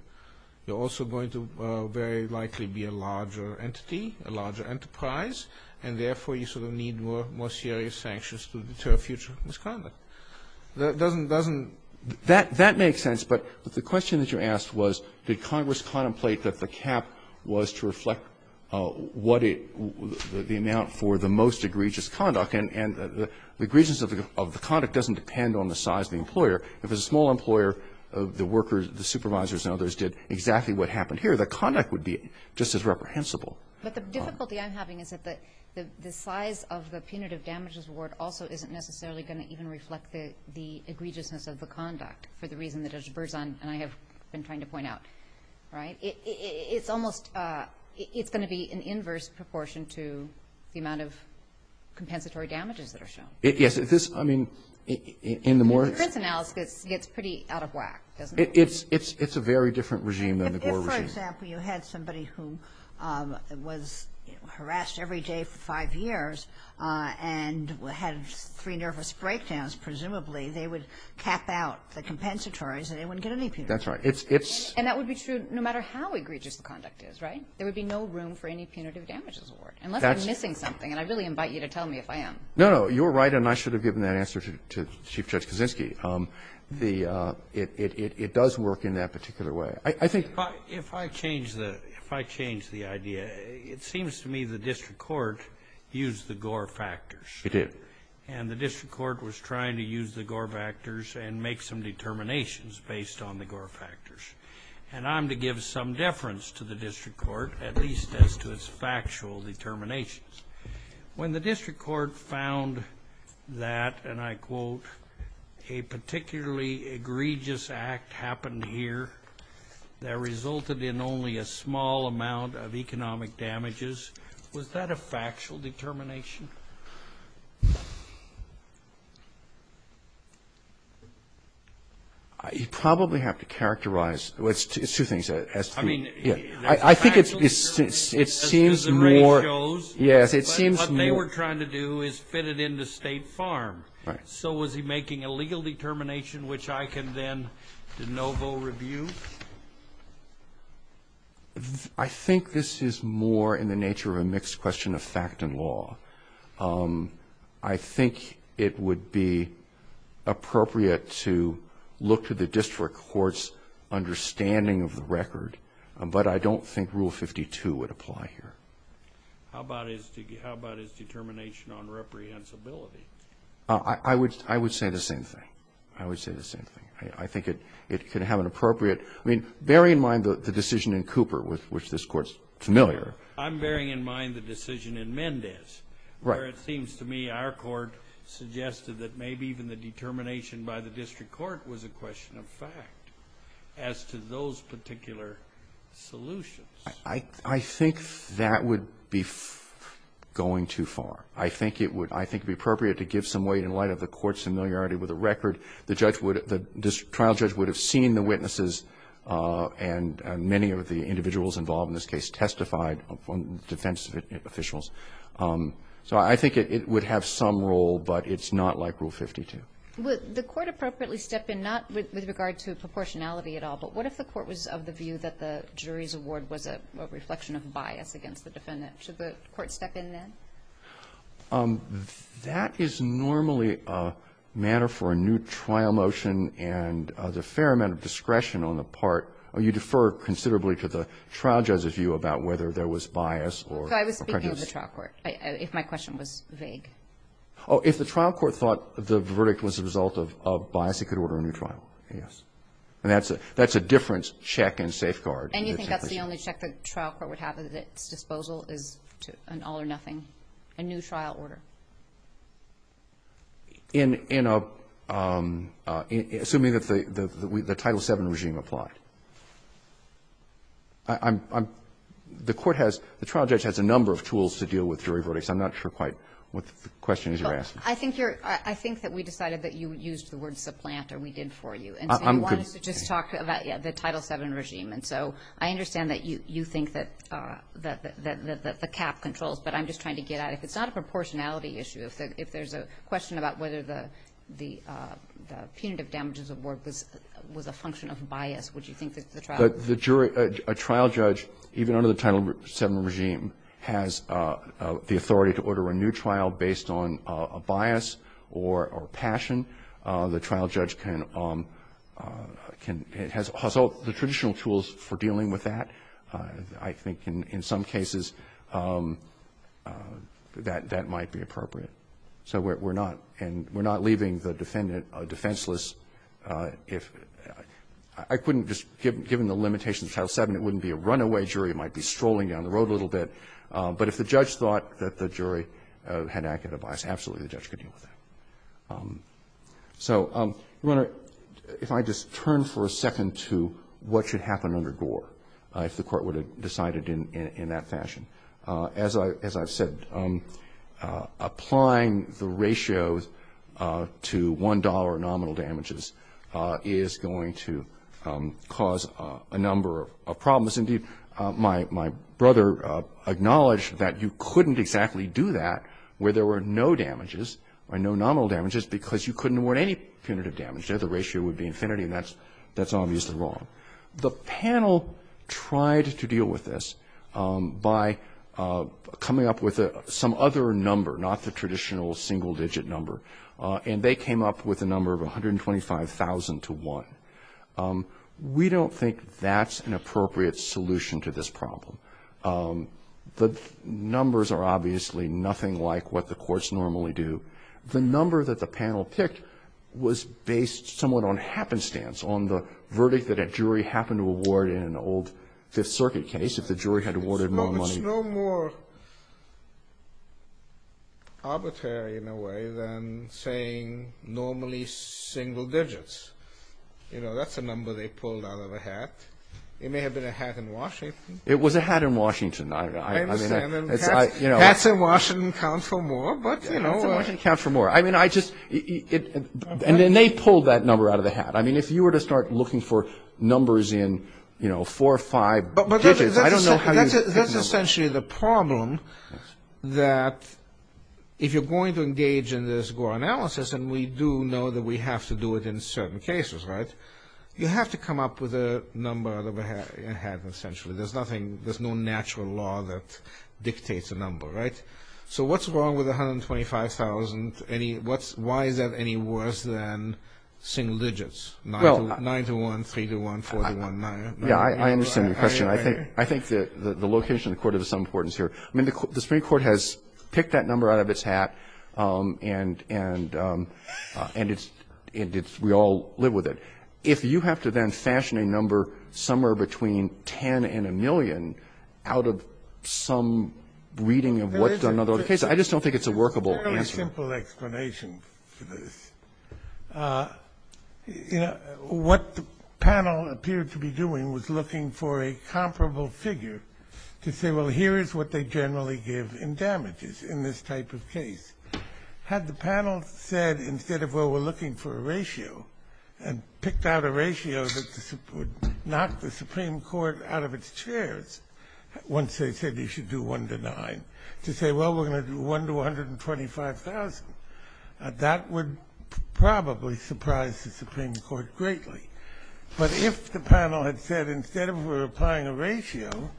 You're also going to very likely be a larger entity, a larger enterprise, and, therefore, you sort of need more serious sanctions to deter future misconduct. That doesn't – that makes sense, but the question that you asked was, did Congress contemplate that the cap was to reflect what it – the amount for the most egregious conduct? And the egregiousness of the conduct doesn't depend on the size of the employer. If it was a small employer, the workers, the supervisors, and others did exactly what happened here, the conduct would be just as reprehensible. But the difficulty I'm having is that the size of the punitive damages award also isn't necessarily going to even reflect the egregiousness of the conduct for the reason that Judge Berzon and I have been trying to point out, right? It's almost – it's going to be an inverse proportion to the amount of compensatory damages that are shown. Yes, this – I mean, in the more – But this analysis gets pretty out of whack, doesn't it? It's a very different regime than the Gore regime. If, for example, you had somebody who was harassed every day for five years and had three nervous breakdowns, presumably they would cap out the compensatories and they wouldn't get any punitive damages. That's right. It's – And that would be true no matter how egregious the conduct is, right? There would be no room for any punitive damages award, unless I'm missing something, and I really invite you to tell me if I am. No, you're right, and I should have given that answer to Chief Judge Kaczynski. The – it does work in that particular way. I think – If I change the – if I change the idea, it seems to me the district court used the Gore factors. It did. And the district court was trying to use the Gore factors and make some determinations based on the Gore factors. And I'm to give some deference to the district court, at least as to its factual determinations. When the district court found that, and I quote, a particularly egregious act happened here that resulted in only a small amount of economic damages, was that a factual determination? You probably have to characterize – well, it's two things. I think it seems more – As the rate goes, what they were trying to do is fit it into State Farm. So was he making a legal determination, which I can then de novo review? I think this is more in the nature of a mixed question of fact and law. I think it would be appropriate to look to the district court's understanding of the record, but I don't think Rule 52 would apply here. How about his determination on reprehensibility? I would say the same thing. I would say the same thing. I think it can have an appropriate – I mean, bearing in mind the decision in Cooper, with which this court's familiar. I'm bearing in mind the decision in Mendez, where it seems to me our court suggested that maybe even the determination by the district court was a question of fact as to those particular solutions. I think that would be going too far. I think it would be appropriate to give some weight in light of the court's familiarity with the record. The trial judge would have seen the witnesses, and many of the individuals involved in this case testified on defense officials. So I think it would have some role, but it's not like Rule 52. Would the court appropriately step in, not with regard to proportionality at all, but what if the court was of the view that the jury's award was a reflection of bias against the defendant? Should the court step in then? That is normally a manner for a new trial motion, and there's a fair amount of discretion on the part – you defer considerably to the trial judge's view about whether there was bias or prejudice. So I was speaking of the trial court, if my question was vague. Oh, if the trial court thought the verdict was the result of bias, it could order a new trial, yes. And that's a different check and safeguard. And you think that's the only check the trial court would have, is that the disposal is an all-or-nothing, a new trial order? Assuming that the Title VII regime applies. The trial judge has a number of tools to deal with jury verdicts. I'm not sure quite what the question is you're asking. I think that we decided that you used the word supplant, or we did for you. And I wanted to just talk about the Title VII regime. And so I understand that you think that the cap controls, but I'm just trying to get at it. If it's not a proportionality issue, if there's a question about whether the punitive damages award was a function of bias, would you think that the trial – A trial judge, even under the Title VII regime, has the authority to order a new trial based on a bias or passion. The trial judge can – has all the traditional tools for dealing with that. I think in some cases that might be appropriate. So we're not – and we're not leaving the defendant defenseless if – I couldn't just – given the limitations of Title VII, it wouldn't be a runaway jury. It might be strolling down the road a little bit. But if the judge thought that the jury had acted in a bias, absolutely the judge could deal with that. So if I just turn for a second to what should happen under Gore. If the court would have decided in that fashion. As I've said, applying the ratios to $1 nominal damages is going to cause a number of problems. Indeed, my brother acknowledged that you couldn't exactly do that where there were no damages, or no nominal damages, because you couldn't award any punitive damage. The ratio would be infinity, and that's obviously wrong. The panel tried to deal with this by coming up with some other number, not the traditional single-digit number, and they came up with a number of 125,000 to 1. We don't think that's an appropriate solution to this problem. The numbers are obviously nothing like what the courts normally do. The number that the panel picked was based somewhat on happenstance, on the verdict that a jury happened to award in an old Fifth Circuit case, if the jury had awarded more money. So it's no more arbitrary in a way than saying normally single digits. You know, that's a number they pulled out of a hat. It may have been a hat in Washington. It was a hat in Washington. I don't know. Hats in Washington count for more, but, you know. Hats in Washington count for more. And then they pulled that number out of the hat. I mean, if you were to start looking for numbers in, you know, four or five digits, I don't know how you'd get them. That's essentially the problem, that if you're going to engage in this Gore analysis, and we do know that we have to do it in certain cases, right, you have to come up with a number in the hat, essentially. There's nothing, there's no natural law that dictates a number, right? So what's wrong with 125,000? Why is that any worse than single digits? 9 to 1, 3 to 1, 4 to 1, 9 to 1. Yeah, I understand your question. I think the location of the court is of some importance here. I mean, the Supreme Court has picked that number out of its hat, and we all live with it. If you have to then fashion a number somewhere between 10 and a million out of some reading of what's done in other cases, I just don't think it's a workable answer. Very simple explanation to this. What the panel appeared to be doing was looking for a comparable figure to say, well, here is what they generally give in damages in this type of case. Had the panel said, instead of, well, we're looking for a ratio, and picked out a ratio that would knock the Supreme Court out of its chairs once they said you should do 1 to 9, to say, well, we're going to do 1 to 125,000, that would probably surprise the Supreme Court greatly. But if the panel had said, instead of we're applying a ratio,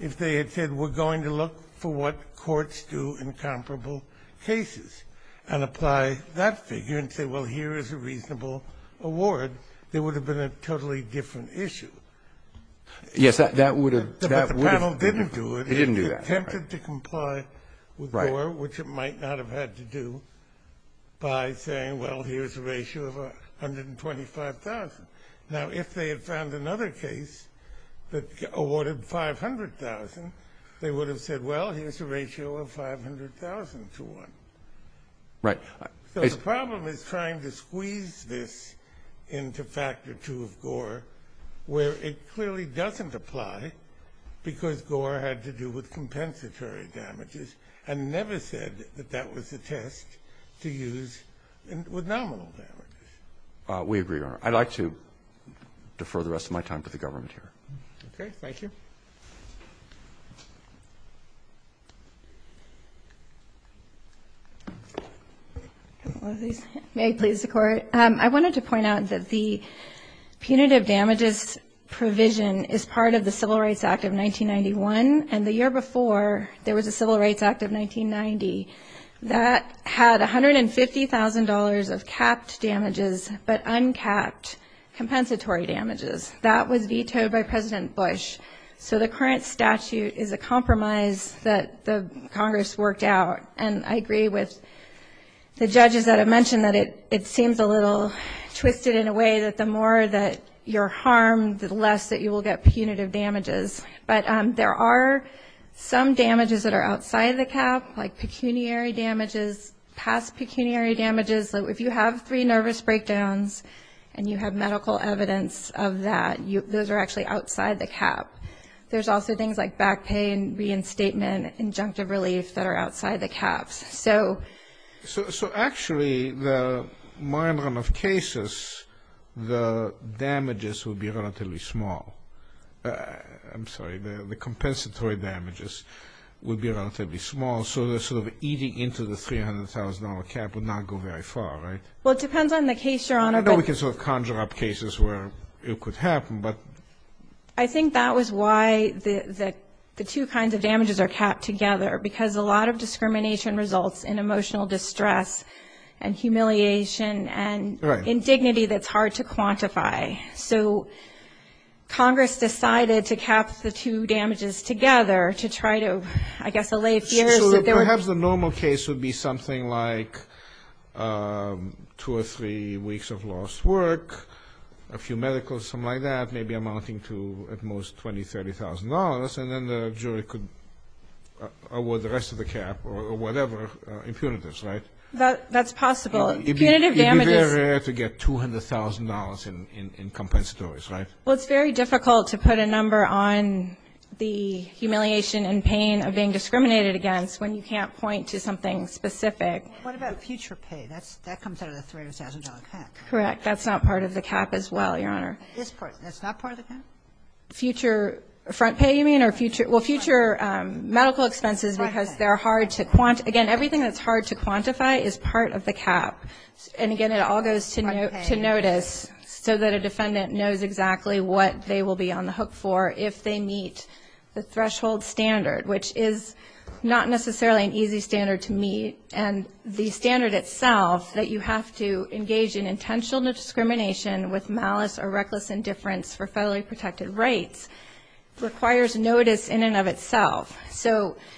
if they had said we're going to look for what courts do in comparable cases, and apply that figure and say, well, here is a reasonable award, it would have been a totally different issue. Yes, that would have. But the panel didn't do it. They didn't do that. They attempted to comply with Gore, which it might not have had to do, by saying, well, here's a ratio of 125,000. Now, if they had found another case that awarded 500,000, they would have said, well, here's a ratio of 500,000 to 1. Right. So the problem is trying to squeeze this into Factor 2 of Gore, where it clearly doesn't apply, because Gore had to do with compensatory damages, and never said that that was the test to use with nominal damages. We agree on it. I'd like to defer the rest of my time to the government here. Okay. Thank you. May I please, the Court? I wanted to point out that the punitive damages provision is part of the Civil Rights Act of 1991, and the year before there was the Civil Rights Act of 1990. That had $150,000 of capped damages but uncapped compensatory damages. That was vetoed by President Bush. So the current statute is a compromise that Congress worked out, and I agree with the judges that have mentioned that it seems a little twisted in a way that the more that you're harmed, the less that you will get punitive damages. But there are some damages that are outside the cap, like pecuniary damages, past pecuniary damages. If you have three nervous breakdowns and you have medical evidence of that, those are actually outside the cap. There's also things like back pain, reinstatement, injunctive relief that are outside the cap. So actually, the minor amount of cases, the damages would be relatively small. I'm sorry, the compensatory damages would be relatively small, so the sort of eating into the $300,000 cap would not go very far, right? Well, it depends on the case, Your Honor. I know we can sort of conjure up cases where it could happen, but... I think that was why the two kinds of damages are capped together, because a lot of discrimination results in emotional distress and humiliation and indignity that's hard to quantify. So Congress decided to cap the two damages together to try to, I guess, allay fears. So perhaps the normal case would be something like two or three weeks of lost work, a few medicals, something like that, maybe amounting to at most $20,000, $30,000, and then the jury could award the rest of the cap or whatever impunities, right? That's possible. It would be very rare to get $200,000 in compensatories, right? Well, it's very difficult to put a number on the humiliation and pain of being discriminated against when you can't point to something specific. What about future pay? That comes out of the $300,000 cap. Correct, that's not part of the cap as well, Your Honor. It's not part of the cap? Future front pay, you mean? Well, future medical expenses, because they're hard to quantify. Again, everything that's hard to quantify is part of the cap. And again, it all goes to notice so that a defendant knows exactly what they will be on the hook for if they meet the threshold standard, which is not necessarily an easy standard to meet. And the standard itself, that you have to engage in intentional discrimination with malice or reckless indifference for federally protected rights, requires notice in and of itself.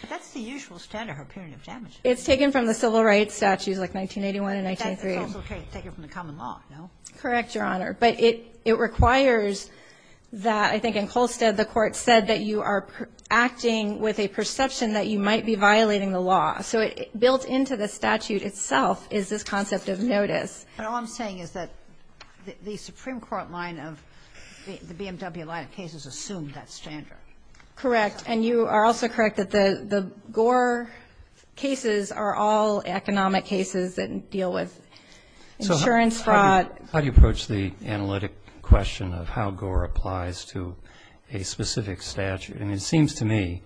That's the usual standard for punitive damages. It's taken from the civil rights statute, like 1981 and 1983. That's okay. It's taken from the common law, no? Correct, Your Honor. But it requires that, I think in Kolstad, the court said that you are acting with a perception that you might be violating the law. So built into the statute itself is this concept of notice. And all I'm saying is that the Supreme Court line of the BMW line of cases assumed that standard. Correct. And you are also correct that the Gore cases are all economic cases that deal with insurance fraud. How do you approach the analytic question of how Gore applies to a specific statute? I mean, it seems to me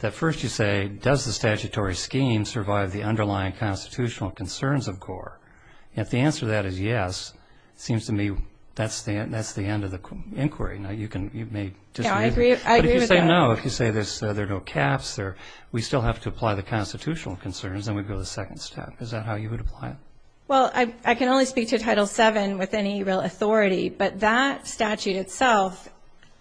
that first you say, does the statutory scheme survive the underlying constitutional concerns of Gore? If the answer to that is yes, it seems to me that's the end of the inquiry. I agree. But if you say no, if you say there are no caps, we still have to apply the constitutional concerns, and we go to the second step. Is that how you would apply it? Well, I can only speak to Title VII with any real authority. But that statute itself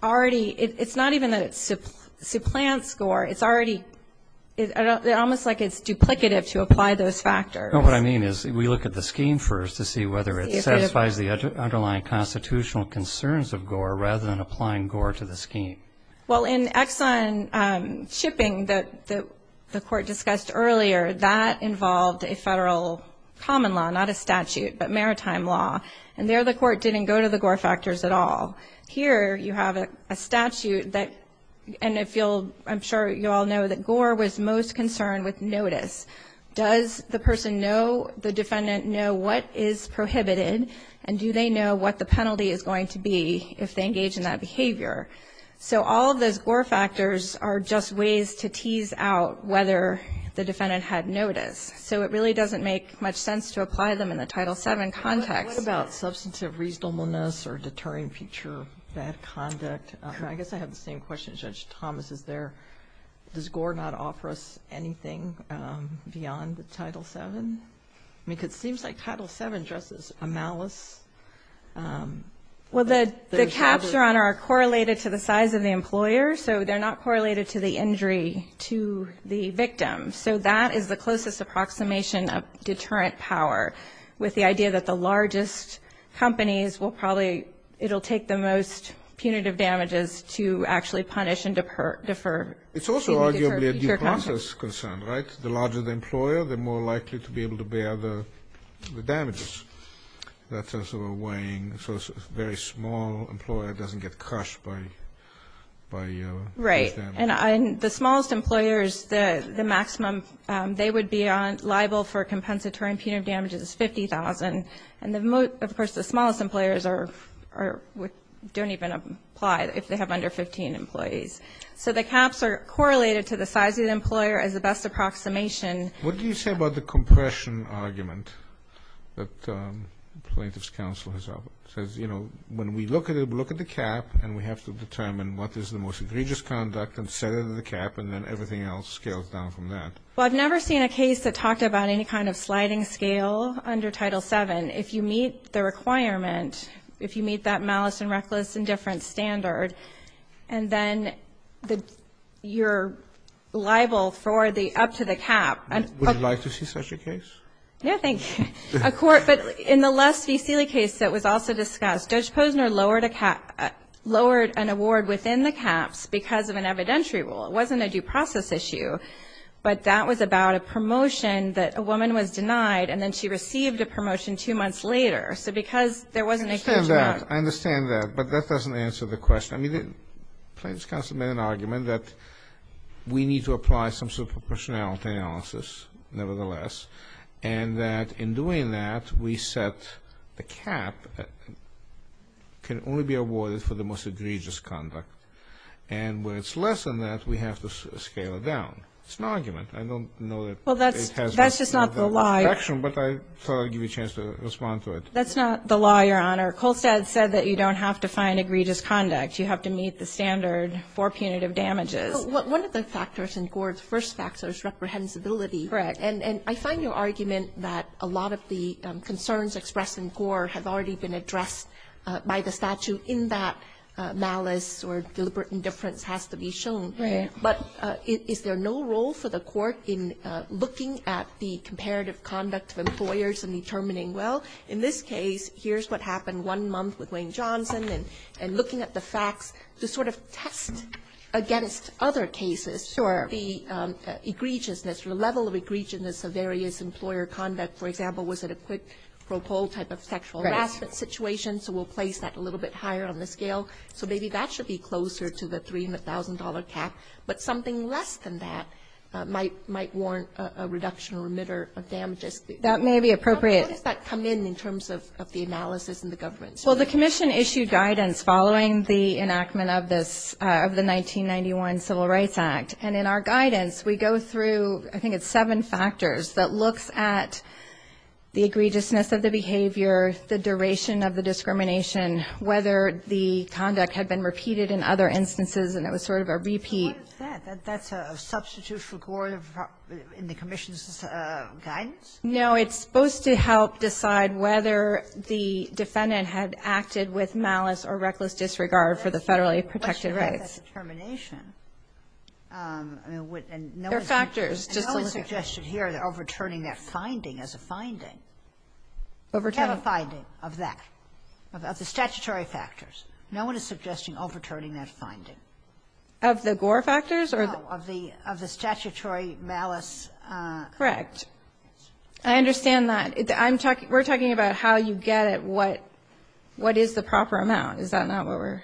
already – it's not even a supplant score. It's already – it's almost like it's duplicative to apply those factors. No, what I mean is we look at the scheme first to see whether it satisfies the underlying constitutional concerns of Gore rather than applying Gore to the scheme. Well, in Exxon Shipping, the court discussed earlier, that involved a federal common law, not a statute, but maritime law. And there the court didn't go to the Gore factors at all. Here you have a statute that – and if you'll – I'm sure you all know that Gore was most concerned with notice. Does the person know – the defendant know what is prohibited, and do they know what the penalty is going to be if they engage in that behavior? So all of those Gore factors are just ways to tease out whether the defendant had notice. So it really doesn't make much sense to apply them in the Title VII context. What about substantive reasonableness or deterring feature of bad conduct? I guess I have the same question as Judge Thomas. Is there – does Gore not offer us anything beyond the Title VII? I mean, because it seems like Title VII addresses a malice. Well, the caps are on or are correlated to the size of the employer, so they're not correlated to the injury to the victim. So that is the closest approximation of deterrent power, with the idea that the largest companies will probably – it'll take the most punitive damages to actually punish and defer. It's also arguably a due process concern, right? The larger the employer, the more likely to be able to bear the damages. That's also weighing – so a very small employer doesn't get crushed by those damages. And the smallest employers, the maximum they would be liable for compensatory punitive damages is $50,000. And, of course, the smallest employers are – don't even apply if they have under 15 employees. So the caps are correlated to the size of the employer as the best approximation. What do you say about the compression argument that plaintiff's counsel has said? You know, when we look at it, we look at the cap, and we have to determine what is the most egregious conduct and set it in the cap, and then everything else scales down from that. Well, I've never seen a case that talked about any kind of flagging scale under Title VII. If you meet the requirement, if you meet that malice and reckless indifference standard, and then you're liable for the up to the cap. Would you like to see such a case? No, thank you. A court – but in the Lessee-Seeley case that was also discussed, Judge Posner lowered a cap – lowered an award within the caps because of an evidentiary rule. It wasn't a due process issue, but that was about a promotion that a woman was denied, and then she received a promotion two months later. So because there wasn't a – I understand that. I understand that. But that doesn't answer the question. I mean, the plaintiff's counsel made an argument that we need to apply some sort of proportionality analysis, nevertheless, and that in doing that, we set a cap that can only be awarded for the most egregious conduct. And when it's less than that, we have to scale it down. It's an argument. I don't know if it has – Well, that's just not the law. But I thought I'd give you a chance to respond to it. That's not the law, Your Honor. Colstead said that you don't have to find egregious conduct. You have to meet the standard for punitive damages. One of the factors in Gore's first fax was reprehensibility. Correct. And I find your argument that a lot of the concerns expressed in Gore have already been addressed by the statute in that malice or deliberate indifference has to be shown. Right. But is there no role for the court in looking at the comparative conduct of employers and determining, well, in this case, here's what happened one month with Wayne Johnson, and looking at the facts to sort of test against other cases the egregiousness or level of egregiousness of various employer conduct. For example, was it a quick propole type of sexual harassment situation? So we'll place that a little bit higher on the scale. So maybe that should be closer to the $300,000 cap. But something less than that might warrant a reduction or remitter of damages. That may be appropriate. How does that come in in terms of the analysis and the governance? Well, the commission issued guidance following the enactment of the 1991 Civil Rights Act. And in our guidance, we go through, I think it's seven factors, that looks at the egregiousness of the behavior, the duration of the discrimination, whether the conduct had been repeated in other instances, and it was sort of a repeat. What is that? That's a substitution in the commission's guidance? No, it's supposed to help decide whether the defendant had acted with malice or reckless disregard for the federally protected rights. There are factors. No one suggested here overturning that finding as a finding. We have a finding of that, of the statutory factors. No one is suggesting overturning that finding. Of the gore factors? Of the statutory malice. Correct. I understand that. We're talking about how you get it, what is the proper amount. Is that not what we're?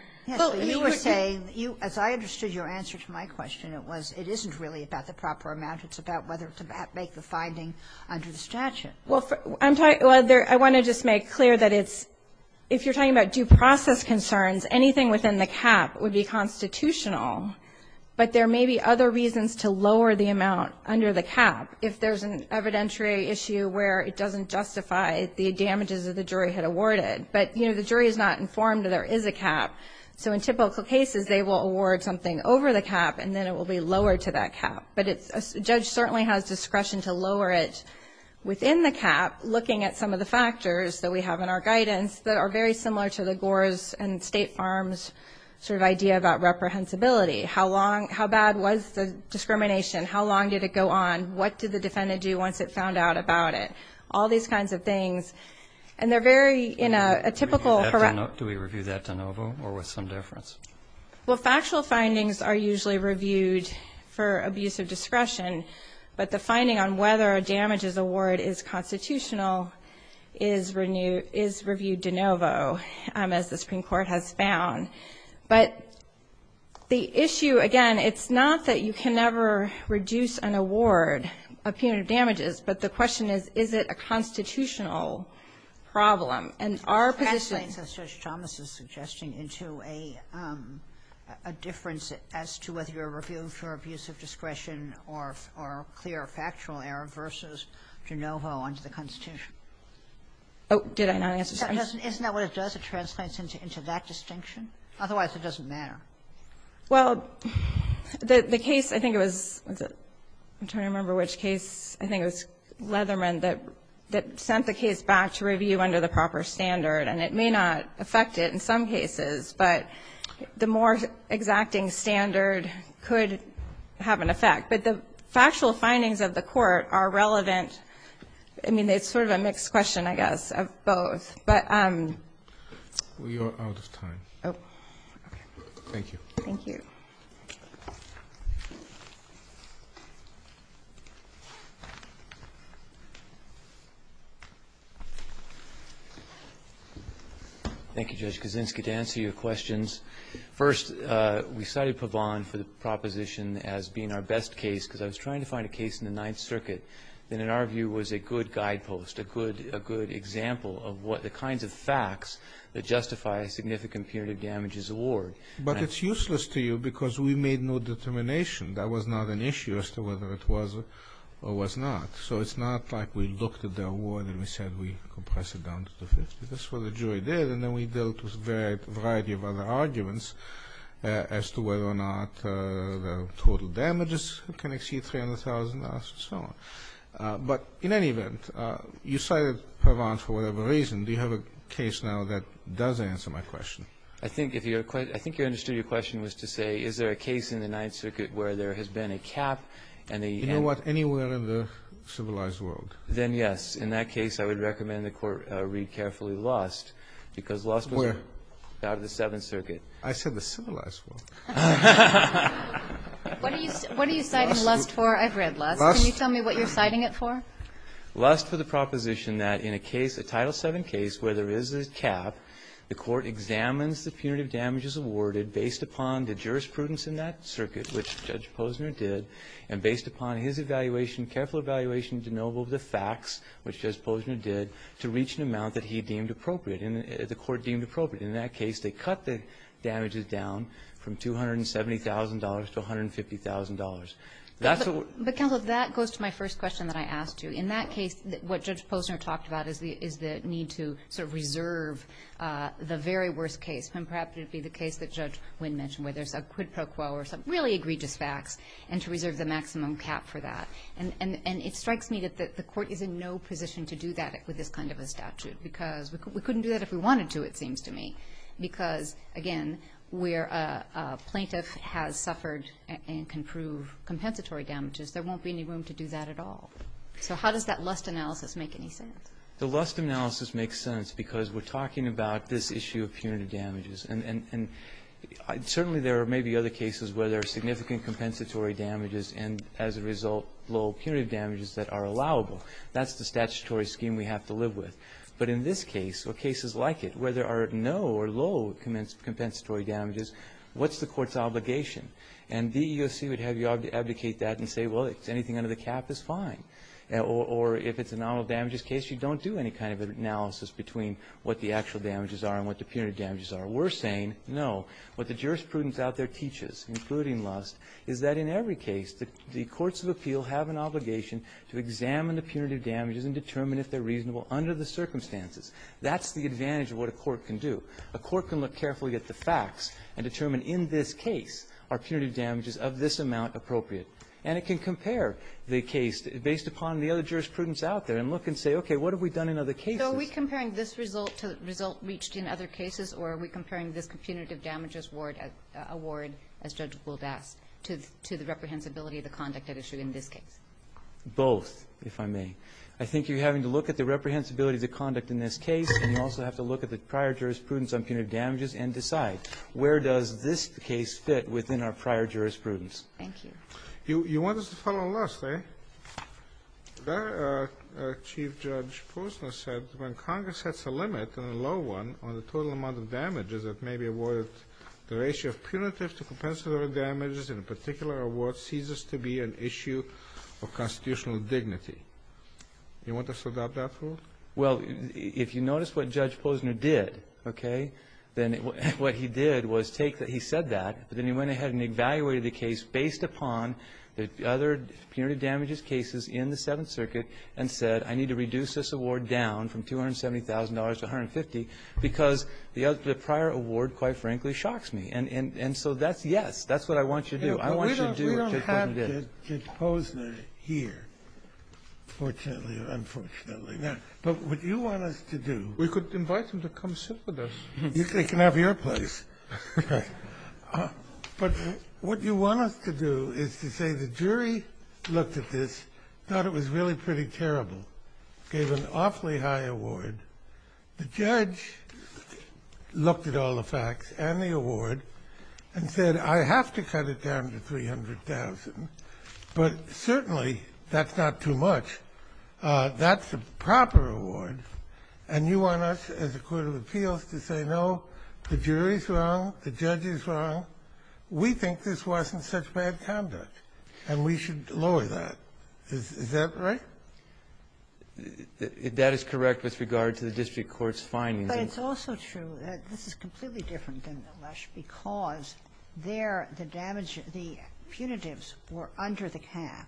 You were saying, as I understood your answer to my question, it wasn't really about the proper amount. It's about whether to make the finding under the statute. Well, I want to just make clear that if you're talking about due process concerns, anything within the cap would be constitutional, but there may be other reasons to lower the amount under the cap if there's an evidentiary issue where it doesn't justify the damages that the jury had awarded. But, you know, the jury is not informed that there is a cap. So in typical cases, they will award something over the cap, and then it will be lowered to that cap. But a judge certainly has discretion to lower it within the cap, looking at some of the factors that we have in our guidance that are very similar to the gores and state farms sort of idea about reprehensibility. How bad was the discrimination? How long did it go on? What did the defendant do once it found out about it? All these kinds of things. And they're very in a typical. Do we review that de novo or with some difference? Well, factual findings are usually reviewed for abuse of discretion, but the finding on whether a damages award is constitutional is reviewed de novo, as the Supreme Court has found. But the issue, again, it's not that you can never reduce an award of punitive damages, but the question is, is it a constitutional problem? And our position – factual error versus de novo under the Constitution. Oh, did I not answer that? In other words, does it translate into that distinction? Otherwise, it doesn't matter. Well, the case – I think it was – I'm trying to remember which case. I think it was Leatherman that sent the case back to review under the proper standard, and it may not affect it in some cases, but the more exacting standard could have an effect. But the factual findings of the court are relevant. I mean, it's sort of a mixed question, I guess, of both. We are out of time. Thank you. Thank you. Thank you, Judge Kaczynski. To answer your questions, First, we cited Pabon for the proposition as being our best case because I was trying to find a case in the Ninth Circuit that, in our view, was a good guidepost, a good example of the kinds of facts that justify a significant punitive damages award. But it's useless to you because we made no determination. That was not an issue as to whether it was or was not. So it's not like we looked at the award and we said we compress it down to two things. That's what the jury did, and then we dealt with a variety of other arguments as to whether or not the total damages can exceed $300,000 and so on. But in any event, you cited Pabon for whatever reason. Do you have a case now that does answer my question? I think you understood your question was to say, is there a case in the Ninth Circuit where there has been a cap and a… You know what? Anywhere in the civilized world. Then yes. In that case, I would recommend the Court read carefully Lust because Lust was… Where? …out of the Seventh Circuit. I said the civilized world. What do you cite Lust for? I've read Lust. Can you tell me what you're citing it for? Lust for the proposition that in a case, a Title VII case, where there is a cap, the Court examines the punitive damages awarded based upon the jurisprudence in that circuit, which Judge Posner did, and based upon his evaluation, to know what the facts, which Judge Posner did, to reach an amount that he deemed appropriate, the Court deemed appropriate. In that case, they cut the damages down from $270,000 to $150,000. But counsel, that goes to my first question that I asked you. In that case, what Judge Posner talked about is the need to reserve the very worst case. And perhaps it would be the case that Judge Wynn mentioned where there's a quid pro quo or something, really agree to facts, and to reserve the maximum cap for that. And it strikes me that the Court is in no position to do that with this kind of a statute because we couldn't do that if we wanted to, it seems to me, because, again, where a plaintiff has suffered and can prove compensatory damages, there won't be any room to do that at all. So how does that Lust analysis make any sense? The Lust analysis makes sense because we're talking about this issue of punitive damages. And certainly there may be other cases where there are significant compensatory damages, and as a result, low punitive damages that are allowable. That's the statutory scheme we have to live with. But in this case, or cases like it, where there are no or low compensatory damages, what's the Court's obligation? And the EEOC would have you abdicate that and say, well, if it's anything under the cap, it's fine. Or if it's a nominal damages case, you don't do any kind of analysis between what the actual damages are and what the punitive damages are. We're saying no. What the jurisprudence out there teaches, including Lust, is that in every case the courts of appeal have an obligation to examine the punitive damages and determine if they're reasonable under the circumstances. That's the advantage of what a court can do. A court can look carefully at the facts and determine, in this case, are punitive damages of this amount appropriate? And it can compare the case based upon the other jurisprudence out there and look and say, okay, what have we done in other cases? So are we comparing this result to the result reached in other cases, or are we comparing this punitive damages award, as Judge Blodack, to the reprehensibility of the conduct at issue in this case? Both, if I may. I think you're having to look at the reprehensibility of the conduct in this case, and you also have to look at the prior jurisprudence on punitive damages and decide where does this case fit within our prior jurisprudence. Thank you. You want us to follow Lust, eh? Chief Judge Posner said when Congress sets a limit on a low one on the total amount of damages that may be awarded, the ratio of punitive to compensatory damages in a particular award ceases to be an issue of constitutional dignity. You want us to adopt that rule? Well, if you notice what Judge Posner did, okay, what he did was he said that, but then he went ahead and evaluated the case based upon the other punitive damages cases in the Seventh Circuit and said I need to reduce this award down from $270,000 to $150,000 because the prior award, quite frankly, shocks me. And so that's, yes, that's what I want you to do. We don't have Judge Posner here, fortunately or unfortunately. But what you want us to do. We could invite him to come sit with us. You can have your place. But what you want us to do is to say the jury looked at this, thought it was really pretty terrible, gave an awfully high award. The judge looked at all the facts and the award and said I have to cut it down to $300,000, but certainly that's not too much. That's a proper award. And you want us as a court of appeals to say no, the jury is wrong, the judge is wrong. We think this wasn't such bad conduct and we should lower that. Is that right? That is correct with regard to the district court's findings. But it's also true that this is completely different than the Rush because there the damage, the punitives were under the cap,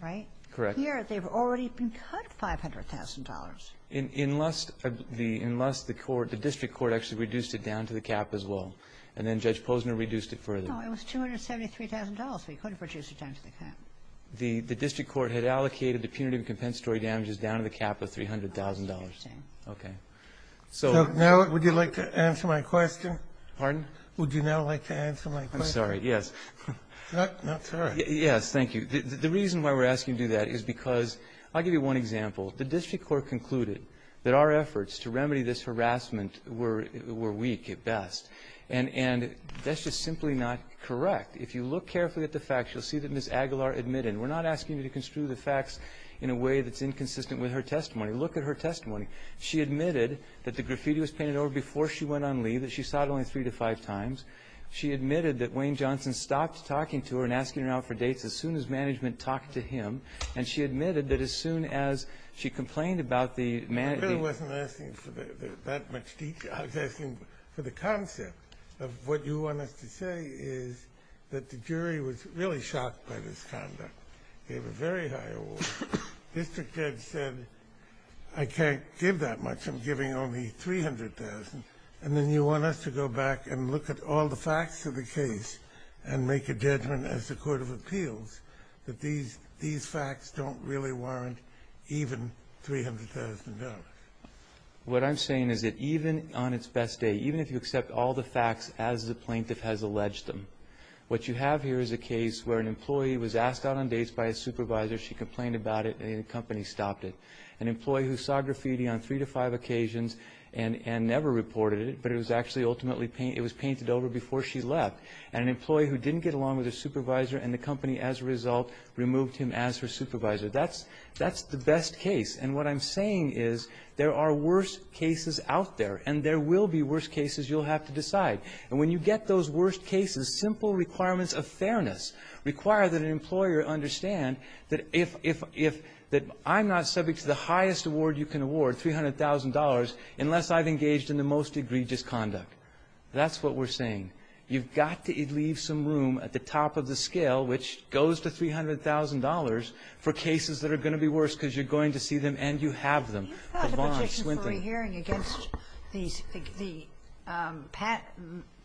right? Correct. Here they've already been cut $500,000. Unless the district court actually reduced it down to the cap as well and then Judge Posner reduced it further. No, it was $273,000. He could have reduced it down to the cap. The district court had allocated the punitive compensatory damages down to the cap of $300,000. Okay. Now would you like to answer my question? Pardon? Would you now like to answer my question? I'm sorry, yes. Not for us. Yes, thank you. The reason why we're asking you to do that is because I'll give you one example. The district court concluded that our efforts to remedy this harassment were weak at best. And that's just simply not correct. If you look carefully at the facts, you'll see that Ms. Aguilar admitted. We're not asking you to construe the facts in a way that's inconsistent with her testimony. Look at her testimony. She admitted that the graffiti was painted over before she went on leave, that she saw it only three to five times. She admitted that Wayne Johnson stopped talking to her and asking her out for dates as soon as management talked to him. And she admitted that as soon as she complained about the management. I wasn't asking for that much detail. I was asking for the concept of what you want us to say is that the jury was really shocked by this conduct. It was a very high award. The district judge said, I can't give that much. I'm giving only $300,000. And then you want us to go back and look at all the facts of the case and make a judgment as the court of appeals that these facts don't really warrant even $300,000. What I'm saying is that even on its best day, even if you accept all the facts as the plaintiff has alleged them, what you have here is a case where an employee was asked out on dates by a supervisor, she complained about it, and the company stopped it. An employee who saw graffiti on three to five occasions and never reported it, but it was actually ultimately painted over before she left. An employee who didn't get along with her supervisor and the company, as a result, removed him as her supervisor. That's the best case. And what I'm saying is there are worse cases out there, and there will be worse cases. You'll have to decide. And when you get those worst cases, simple requirements of fairness require that an employer understand that I'm not subject to the highest award you can award, $300,000, unless I've engaged in the most egregious conduct. That's what we're saying. You've got to leave some room at the top of the scale, which goes to $300,000, for cases that are going to be worse because you're going to see them and you have them. You filed a petition for a hearing against the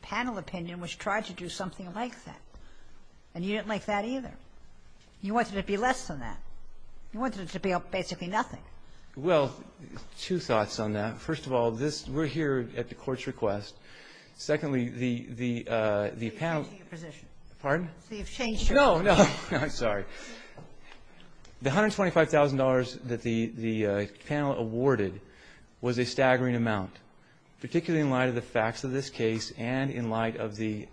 panel opinion which tried to do something like that, and you didn't like that either. You wanted it to be less than that. You wanted it to be basically nothing. Well, two thoughts on that. First of all, we're here at the court's request. Secondly, the panel. You've changed your position. Pardon? You've changed your position. No, no. I'm sorry. The $125,000 that the panel awarded was a staggering amount, particularly in light of the facts of this case and in light of the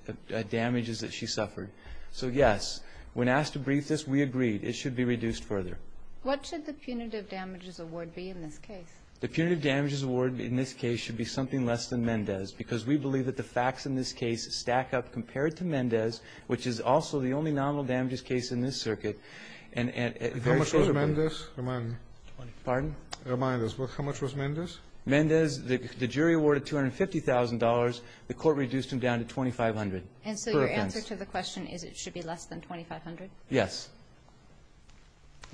damages that she suffered. So, yes, when asked to brief this, we agreed it should be reduced further. What should the punitive damages award be in this case? The punitive damages award in this case should be something less than Mendez because we believe that the facts in this case stack up compared to Mendez, which is also the only nominal damages case in this circuit. How much was Mendez? Pardon? Remind us. How much was Mendez? Mendez, the jury awarded $250,000. The court reduced them down to $2,500. And so your answer to the question is it should be less than $2,500? Yes.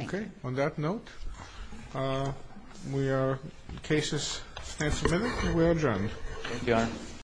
Okay. On that note, we are in cases. Thanks a minute. We're adjourned. Thank you, Your Honor.